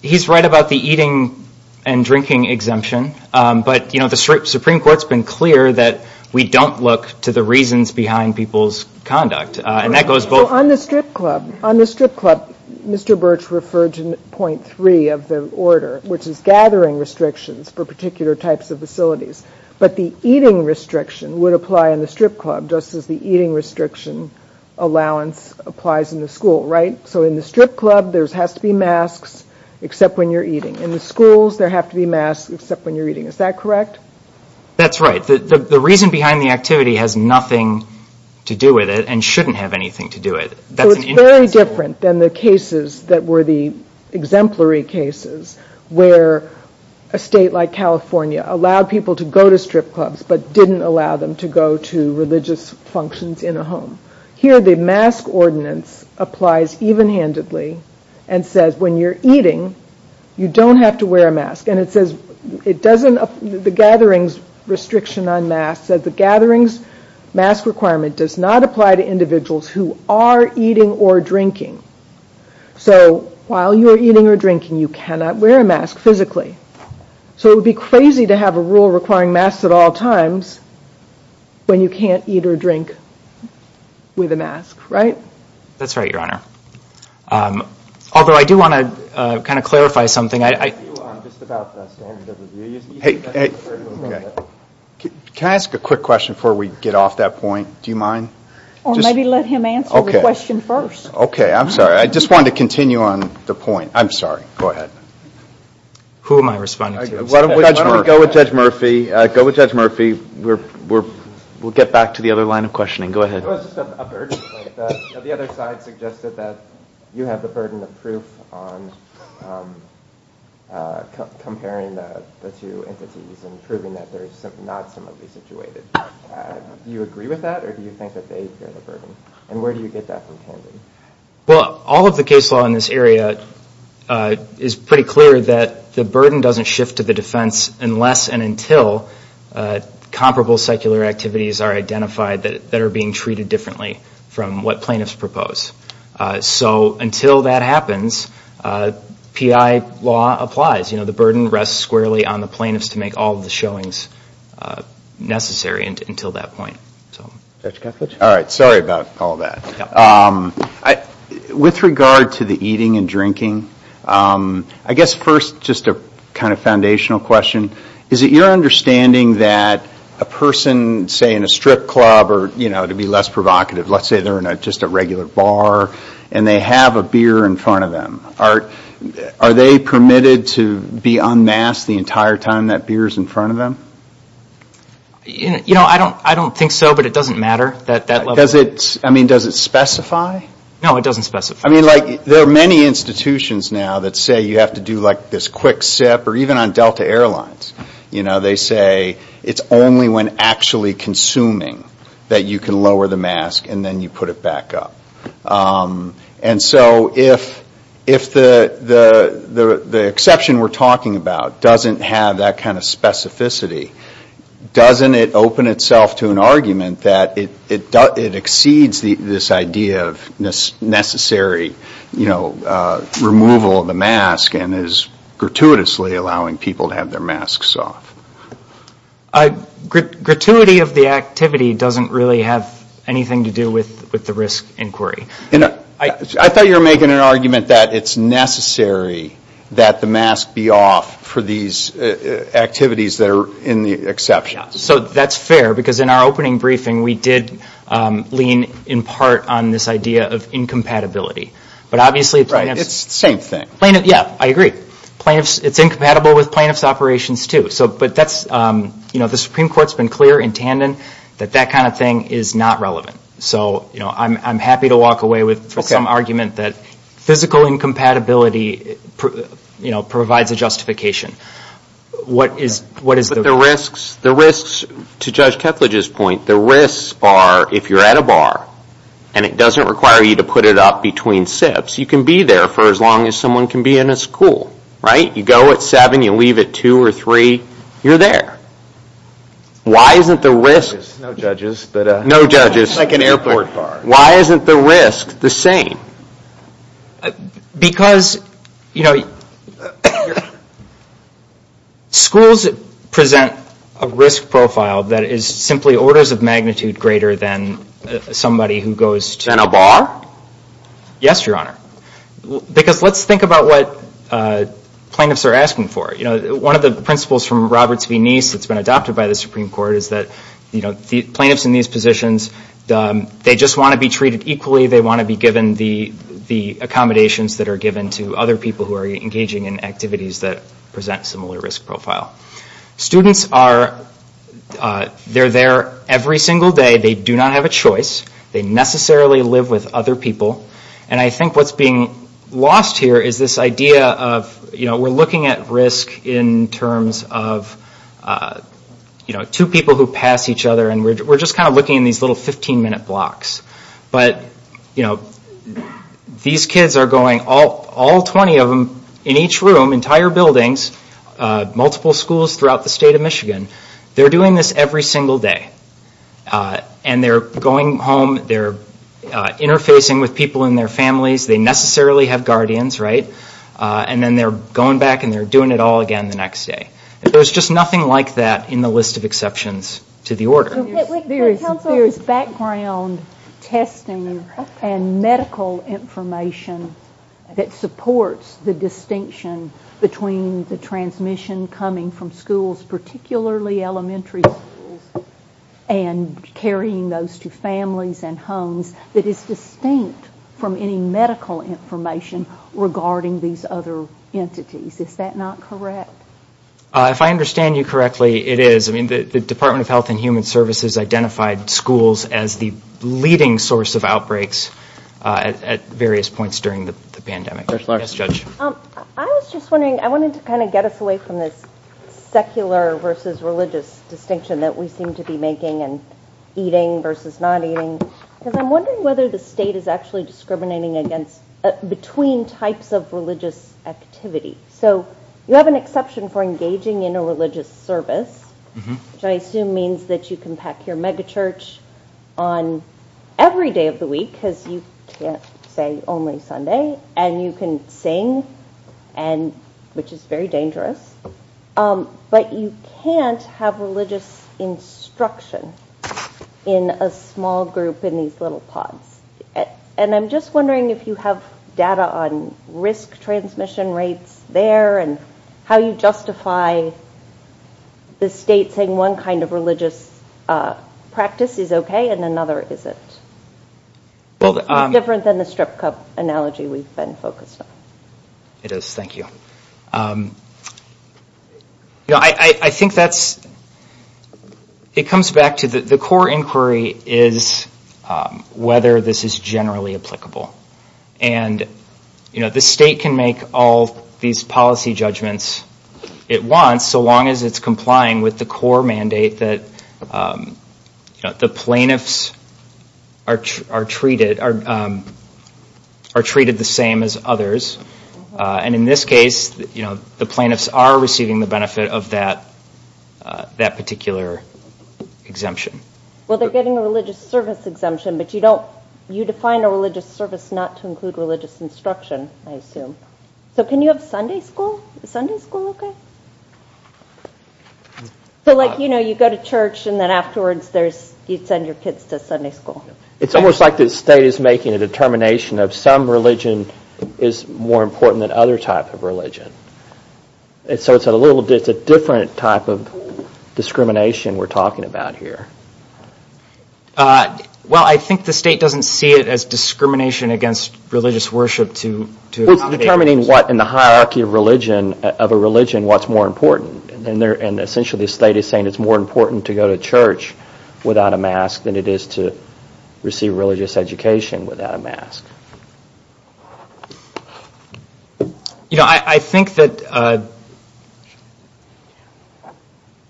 He's right about the eating and drinking exemption. But, you know, the Supreme Court's been clear that we don't look to the reasons behind people's conduct. On the strip club, Mr. Birch referred to point three of the order, which is gathering restrictions for particular types of facilities. But the eating restriction would apply in the strip club, just as the eating restriction allowance applies in the school, right? So in the strip club, there has to be masks except when you're eating. In the schools, there have to be masks except when you're eating. Is that correct? That's right. The reason behind the activity has nothing to do with it and shouldn't have anything to do with it. It's very different than the cases that were the exemplary cases where a state like California allowed people to go to strip clubs but didn't allow them to go to religious functions in a home. Here, the mask ordinance applies even-handedly and says when you're eating, you don't have to wear a mask. The gatherings restriction on masks says the gatherings mask requirement does not apply to individuals who are eating or drinking. So while you're eating or drinking, you cannot wear a mask physically. So it would be crazy to have a rule requiring masks at all times when you can't eat or drink with a mask, right? That's right, Your Honor. Although I do want to kind of clarify something. Hey, can I ask a quick question before we get off that point? Do you mind? Well, maybe let him answer the question first. Okay, I'm sorry. I just wanted to continue on the point. I'm sorry. Go ahead. Who am I responding to? Go with Judge Murphy. Go with Judge Murphy. We'll get back to the other line of questioning. Go ahead. The other side suggested that you have the burden of proof on comparing the two entities and proving that they're not similarly situated. Do you agree with that, or do you think that they share the burden? And where do you get that from? Well, all of the case law in this area is pretty clear that the burden doesn't shift to the defense unless and until comparable secular activities are identified that are being treated differently from what plaintiffs propose. So until that happens, PI law applies. You know, the burden rests squarely on the plaintiffs to make all of the showings necessary until that point. All right. Sorry about all that. With regard to the eating and drinking, I guess first just a kind of foundational question. Is it your understanding that a person, say, in a strip club, or, you know, to be less provocative, let's say they're in just a regular bar and they have a beer in front of them. Are they permitted to be unmasked the entire time that beer is in front of them? You know, I don't think so, but it doesn't matter. I mean, does it specify? No, it doesn't specify. I mean, like, there are many institutions now that say you have to do, like, this quick sip, or even on Delta Airlines, you know, they say it's only when actually consuming that you can lower the mask and then you put it back up. And so if the exception we're talking about doesn't have that kind of specificity, doesn't it open itself to an argument that it exceeds this idea of necessary, you know, removal of the mask and is gratuitously allowing people to have their masks off? Gratuity of the activity doesn't really have anything to do with the risk inquiry. I thought you were making an argument that it's necessary that the mask be off for these activities that are in the exception. So that's fair, because in our opening briefing we did lean in part on this idea of incompatibility. Right, it's the same thing. Yeah, I agree. It's incompatible with plaintiff's operations, too. So, but that's, you know, the Supreme Court's been clear in tandem that that kind of thing is not relevant. So, you know, I'm happy to walk away with some argument that physical incompatibility, you know, provides a justification. What is the risk? The risks, to Judge Teplidge's point, the risks are if you're at a bar and it doesn't require you to put it up between sips, you can be there for as long as someone can be in a school, right? You go at 7, you leave at 2 or 3, you're there. Why isn't the risk? No judges. No judges. It's like an airport card. Why isn't the risk the same? Because, you know, schools present a risk profile that is simply orders of magnitude greater than somebody who goes to Than a bar? Yes, Your Honor. Because let's think about what plaintiffs are asking for. You know, one of the principles from Roberts v. Neist that's been adopted by the Supreme Court is that, you know, plaintiffs in these positions, they just want to be treated equally. They want to be given the accommodations that are given to other people who are engaging in activities that present similar risk profile. Students are, they're there every single day. They do not have a choice. They necessarily live with other people. And I think what's being lost here is this idea of, you know, we're looking at risk in terms of, you know, two people who pass each other and we're just kind of looking at these little 15-minute blocks. But, you know, these kids are going, all 20 of them, in each room, entire buildings, multiple schools throughout the state of Michigan, they're doing this every single day. And they're going home, they're interfacing with people in their families, they necessarily have guardians, right? And then they're going back and they're doing it all again the next day. There's just nothing like that in the list of exceptions to the order. There's background testing and medical information that supports the distinction between the transmission coming from schools, particularly elementary school, and carrying those to families and homes, that is distinct from any medical information regarding these other entities. Is that not correct? If I understand you correctly, it is. I mean, the Department of Health and Human Services identified schools as the leading source of outbreaks at various points during the pandemic. I was just wondering, I wanted to kind of get us away from this secular versus religious distinction that we seem to be making, and eating versus not eating. Because I'm wondering whether the state is actually discriminating between types of religious activities. So, you have an exception for engaging in a religious service, which I assume means that you can pack your megachurch on every day of the week, because you can't stay only Sunday, and you can sing, which is very dangerous. But you can't have religious instruction in a small group in these little pods. And I'm just wondering if you have data on risk transmission rates there, and how you justify the state saying one kind of religious practice is okay and another isn't. It's different than the strip club analogy we've been focused on. It is. Thank you. I think it comes back to the core inquiry is whether this is generally applicable. The state can make all these policy judgments it wants, so long as it's complying with the core mandate that the plaintiffs are treated the same as others. And in this case, the plaintiffs are receiving the benefit of that particular exemption. Well, they're getting a religious service exemption, but you define a religious service not to include religious instruction, I assume. So, can you have Sunday school? Is Sunday school okay? So, like, you know, you go to church, and then afterwards you send your kids to Sunday school. It's almost like the state is making a determination that some religion is more important than other types of religion. So, it's a different type of discrimination we're talking about here. Well, I think the state doesn't see it as discrimination against religious worship. We're determining what, in the hierarchy of a religion, what's more important, and essentially the state is saying it's more important to go to church without a mask than it is to receive religious education without a mask. You know, I think that,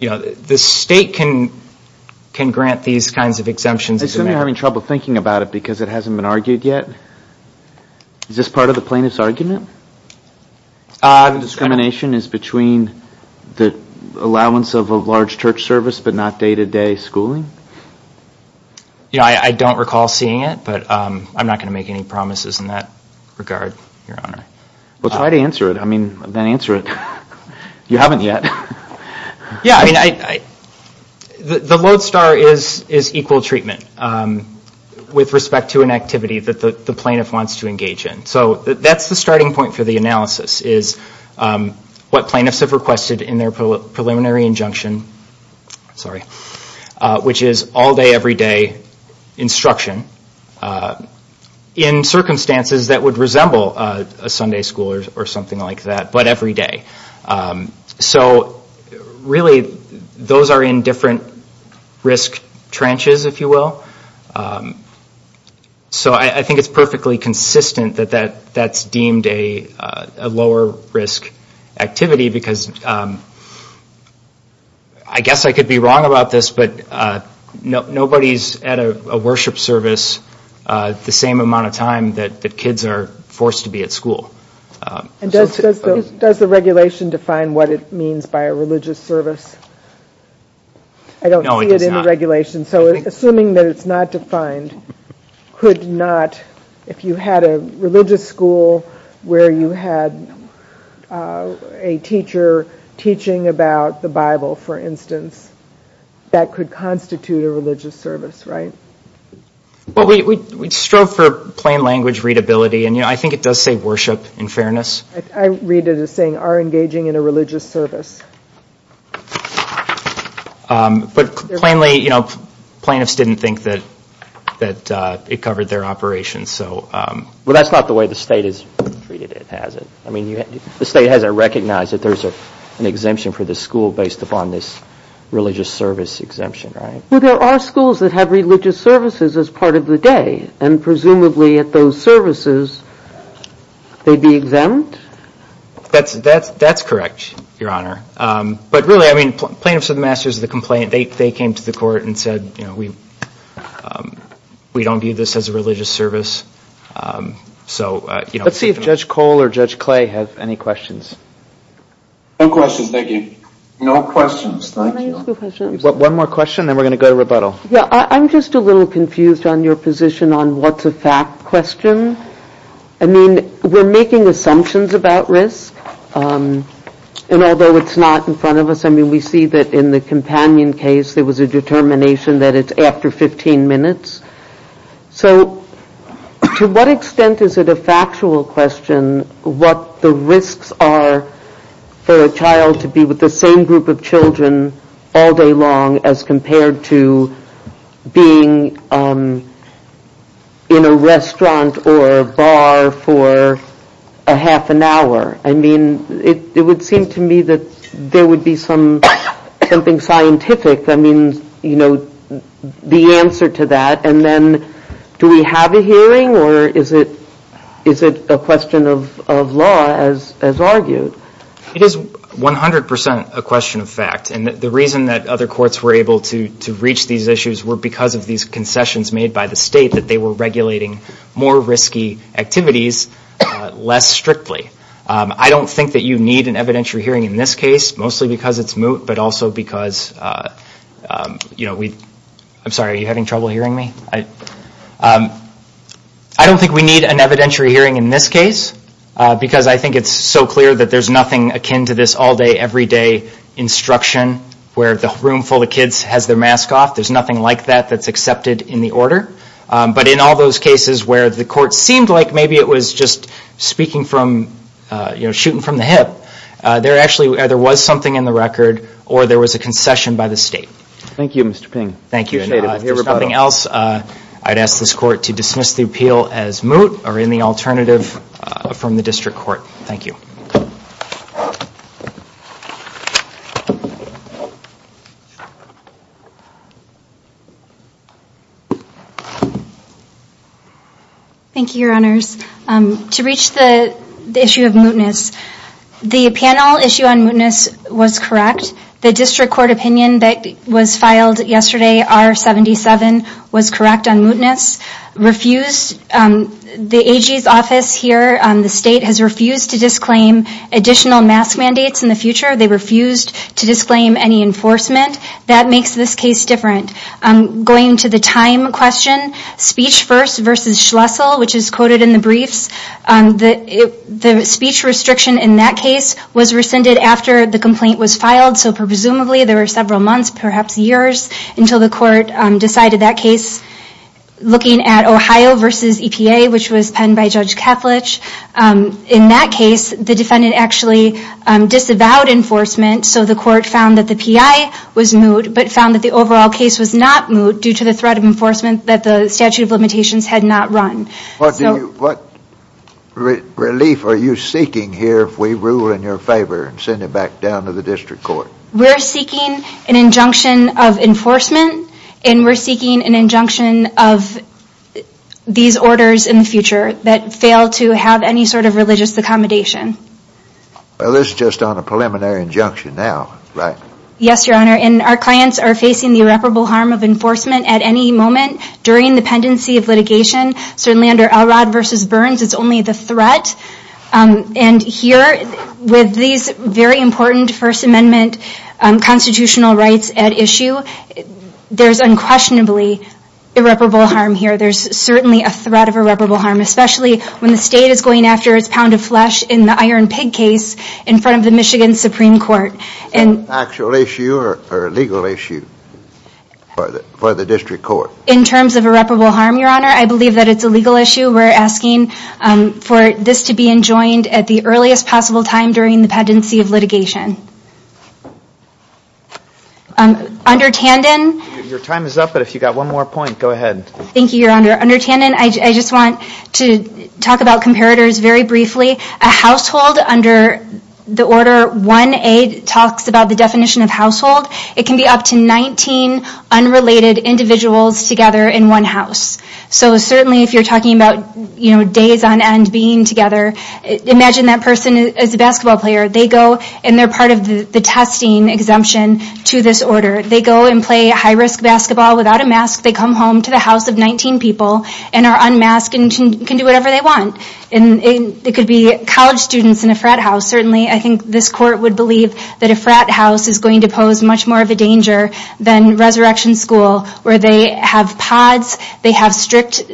you know, the state can grant these kinds of exemptions. I'm having trouble thinking about it because it hasn't been argued yet. Is this part of the plaintiff's argument? The discrimination is between the allowance of a large church service but not day-to-day schooling? You know, I don't recall seeing it, but I'm not going to make any promises in that regard, Your Honor. Well, try to answer it. I mean, then answer it. You haven't yet. Yeah, I mean, the lodestar is equal treatment with respect to an activity that the plaintiff wants to engage in. So, that's the starting point for the analysis is what plaintiffs have requested in their preliminary injunction, which is all day, every day instruction in circumstances that would resemble a Sunday school or something like that, but every day. So, really, those are in different risk trenches, if you will. So, I think it's perfectly consistent that that's deemed a lower risk activity because I guess I could be wrong about this, but nobody's at a worship service the same amount of time that kids are forced to be at school. And does the regulation define what it means by a religious service? I don't see it in the regulation. No, it does not. I don't see a teacher teaching about the Bible, for instance, that could constitute a religious service, right? Well, we'd stroke for plain language readability, and I think it does say worship in fairness. I read it as saying are engaging in a religious service. But plainly, you know, plaintiffs didn't think that it covered their operations. Well, that's not the way the state has it. I mean, the state hasn't recognized that there's an exemption for the school based upon this religious service exemption, right? Well, there are schools that have religious services as part of the day, and presumably, at those services, they'd be exempt? That's correct, Your Honor. But really, I mean, plaintiffs are the masters of the complaint. They came to the court and said, you know, we don't view this as a religious service. Let's see if Judge Cole or Judge Clay has any questions. No questions, thank you. No questions. One more question, and then we're going to go to rebuttal. Yeah, I'm just a little confused on your position on what's a fact question. I mean, we're making assumptions about risk, and although it's not in front of us, I mean, we see that in the companion case, there was a determination that it's after 15 minutes. So to what extent is it a factual question what the risks are for a child to be with the same group of children all day long as compared to being in a restaurant or a bar for a half an hour? I mean, it would seem to me that there would be something scientific, I mean, you know, the answer to that. And then do we have a hearing, or is it a question of law as argued? It is 100% a question of fact, and the reason that other courts were able to reach these issues were because of these concessions made by the state that they were regulating more risky activities less strictly. I don't think that you need an evidentiary hearing in this case, mostly because it's moot, but also because, you know, I'm sorry, are you having trouble hearing me? I don't think we need an evidentiary hearing in this case because I think it's so clear that there's nothing akin to this all-day, every-day instruction where the room full of kids has their mask off. There's nothing like that that's accepted in the order. But in all those cases where the court seemed like maybe it was just speaking from, you know, shooting from the hip, there actually either was something in the record or there was a concession by the state. Thank you, Mr. Ping. Thank you. If there's nothing else, I'd ask this court to dismiss the appeal as moot or any alternative from the district court. Thank you. Thank you, Your Honors. To reach the issue of mootness, the panel issue on mootness was correct. The district court opinion that was filed yesterday, R-77, was correct on mootness. Refused, the AG's office here on the state has refused to disclaim additional mask mandates in the future. They refused to disclaim any enforcement. That makes this case different. Going to the time question, speech first versus Schlessel, which is quoted in the brief, the speech restriction in that case was rescinded after the complaint was filed, so presumably there were several months, perhaps years, until the court decided that case. Looking at Ohio versus EPA, which was penned by Judge Kaplich, in that case, the defendant actually disavowed enforcement, so the court found that the PI was moot but found that the overall case was not moot due to the threat of enforcement that the statute of limitations had not run. What relief are you seeking here if we rule in your favor and send it back down to the district court? We're seeking an injunction of enforcement and we're seeking an injunction of these orders in the future that fail to have any sort of religious accommodation. Well, this is just on a preliminary injunction now, right? Yes, Your Honor, and our clients are facing the irreparable harm of enforcement at any moment during the pendency of litigation. Certainly under Allot versus Burns, it's only the threat, and here with these very important First Amendment constitutional rights at issue, there's unquestionably irreparable harm here. There's certainly a threat of irreparable harm, especially when the state is going after its pound of flesh in the Iron Pig case in front of the Michigan Supreme Court. Actual issue or legal issue for the district court? In terms of irreparable harm, Your Honor, I believe that it's a legal issue. We're asking for this to be enjoined at the earliest possible time during the pendency of litigation. Under Tandon? Your time is up, but if you've got one more point, go ahead. Thank you, Your Honor. Under Tandon, I just want to talk about comparators very briefly. A household under the Order 1A talks about the definition of household. It can be up to 19 unrelated individuals together in one house. So certainly if you're talking about days on end being together, imagine that person is a basketball player. They go and they're part of the testing exemption to this order. They go and play high-risk basketball without a mask. They come home to the house of 19 people and are unmasked and can do whatever they want. It could be college students in a frat house. Certainly I think this court would believe that a frat house is going to pose much more of a danger than resurrection school where they have pods, they have strict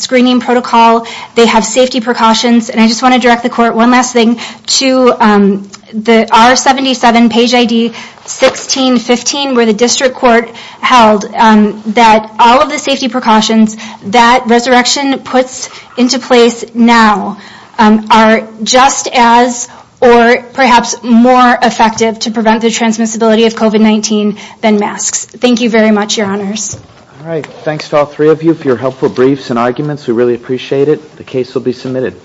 screening protocol, they have safety precautions. I just want to direct the court one last thing to the R77 page ID 1515 where the district court held that all of the safety precautions that resurrection puts into place now are just as or perhaps more effective to prevent the transmissibility of COVID-19 than masks. Thank you very much, Your Honors. All right, thanks to all three of you for your helpful briefs and arguments. We really appreciate it. The case will be submitted.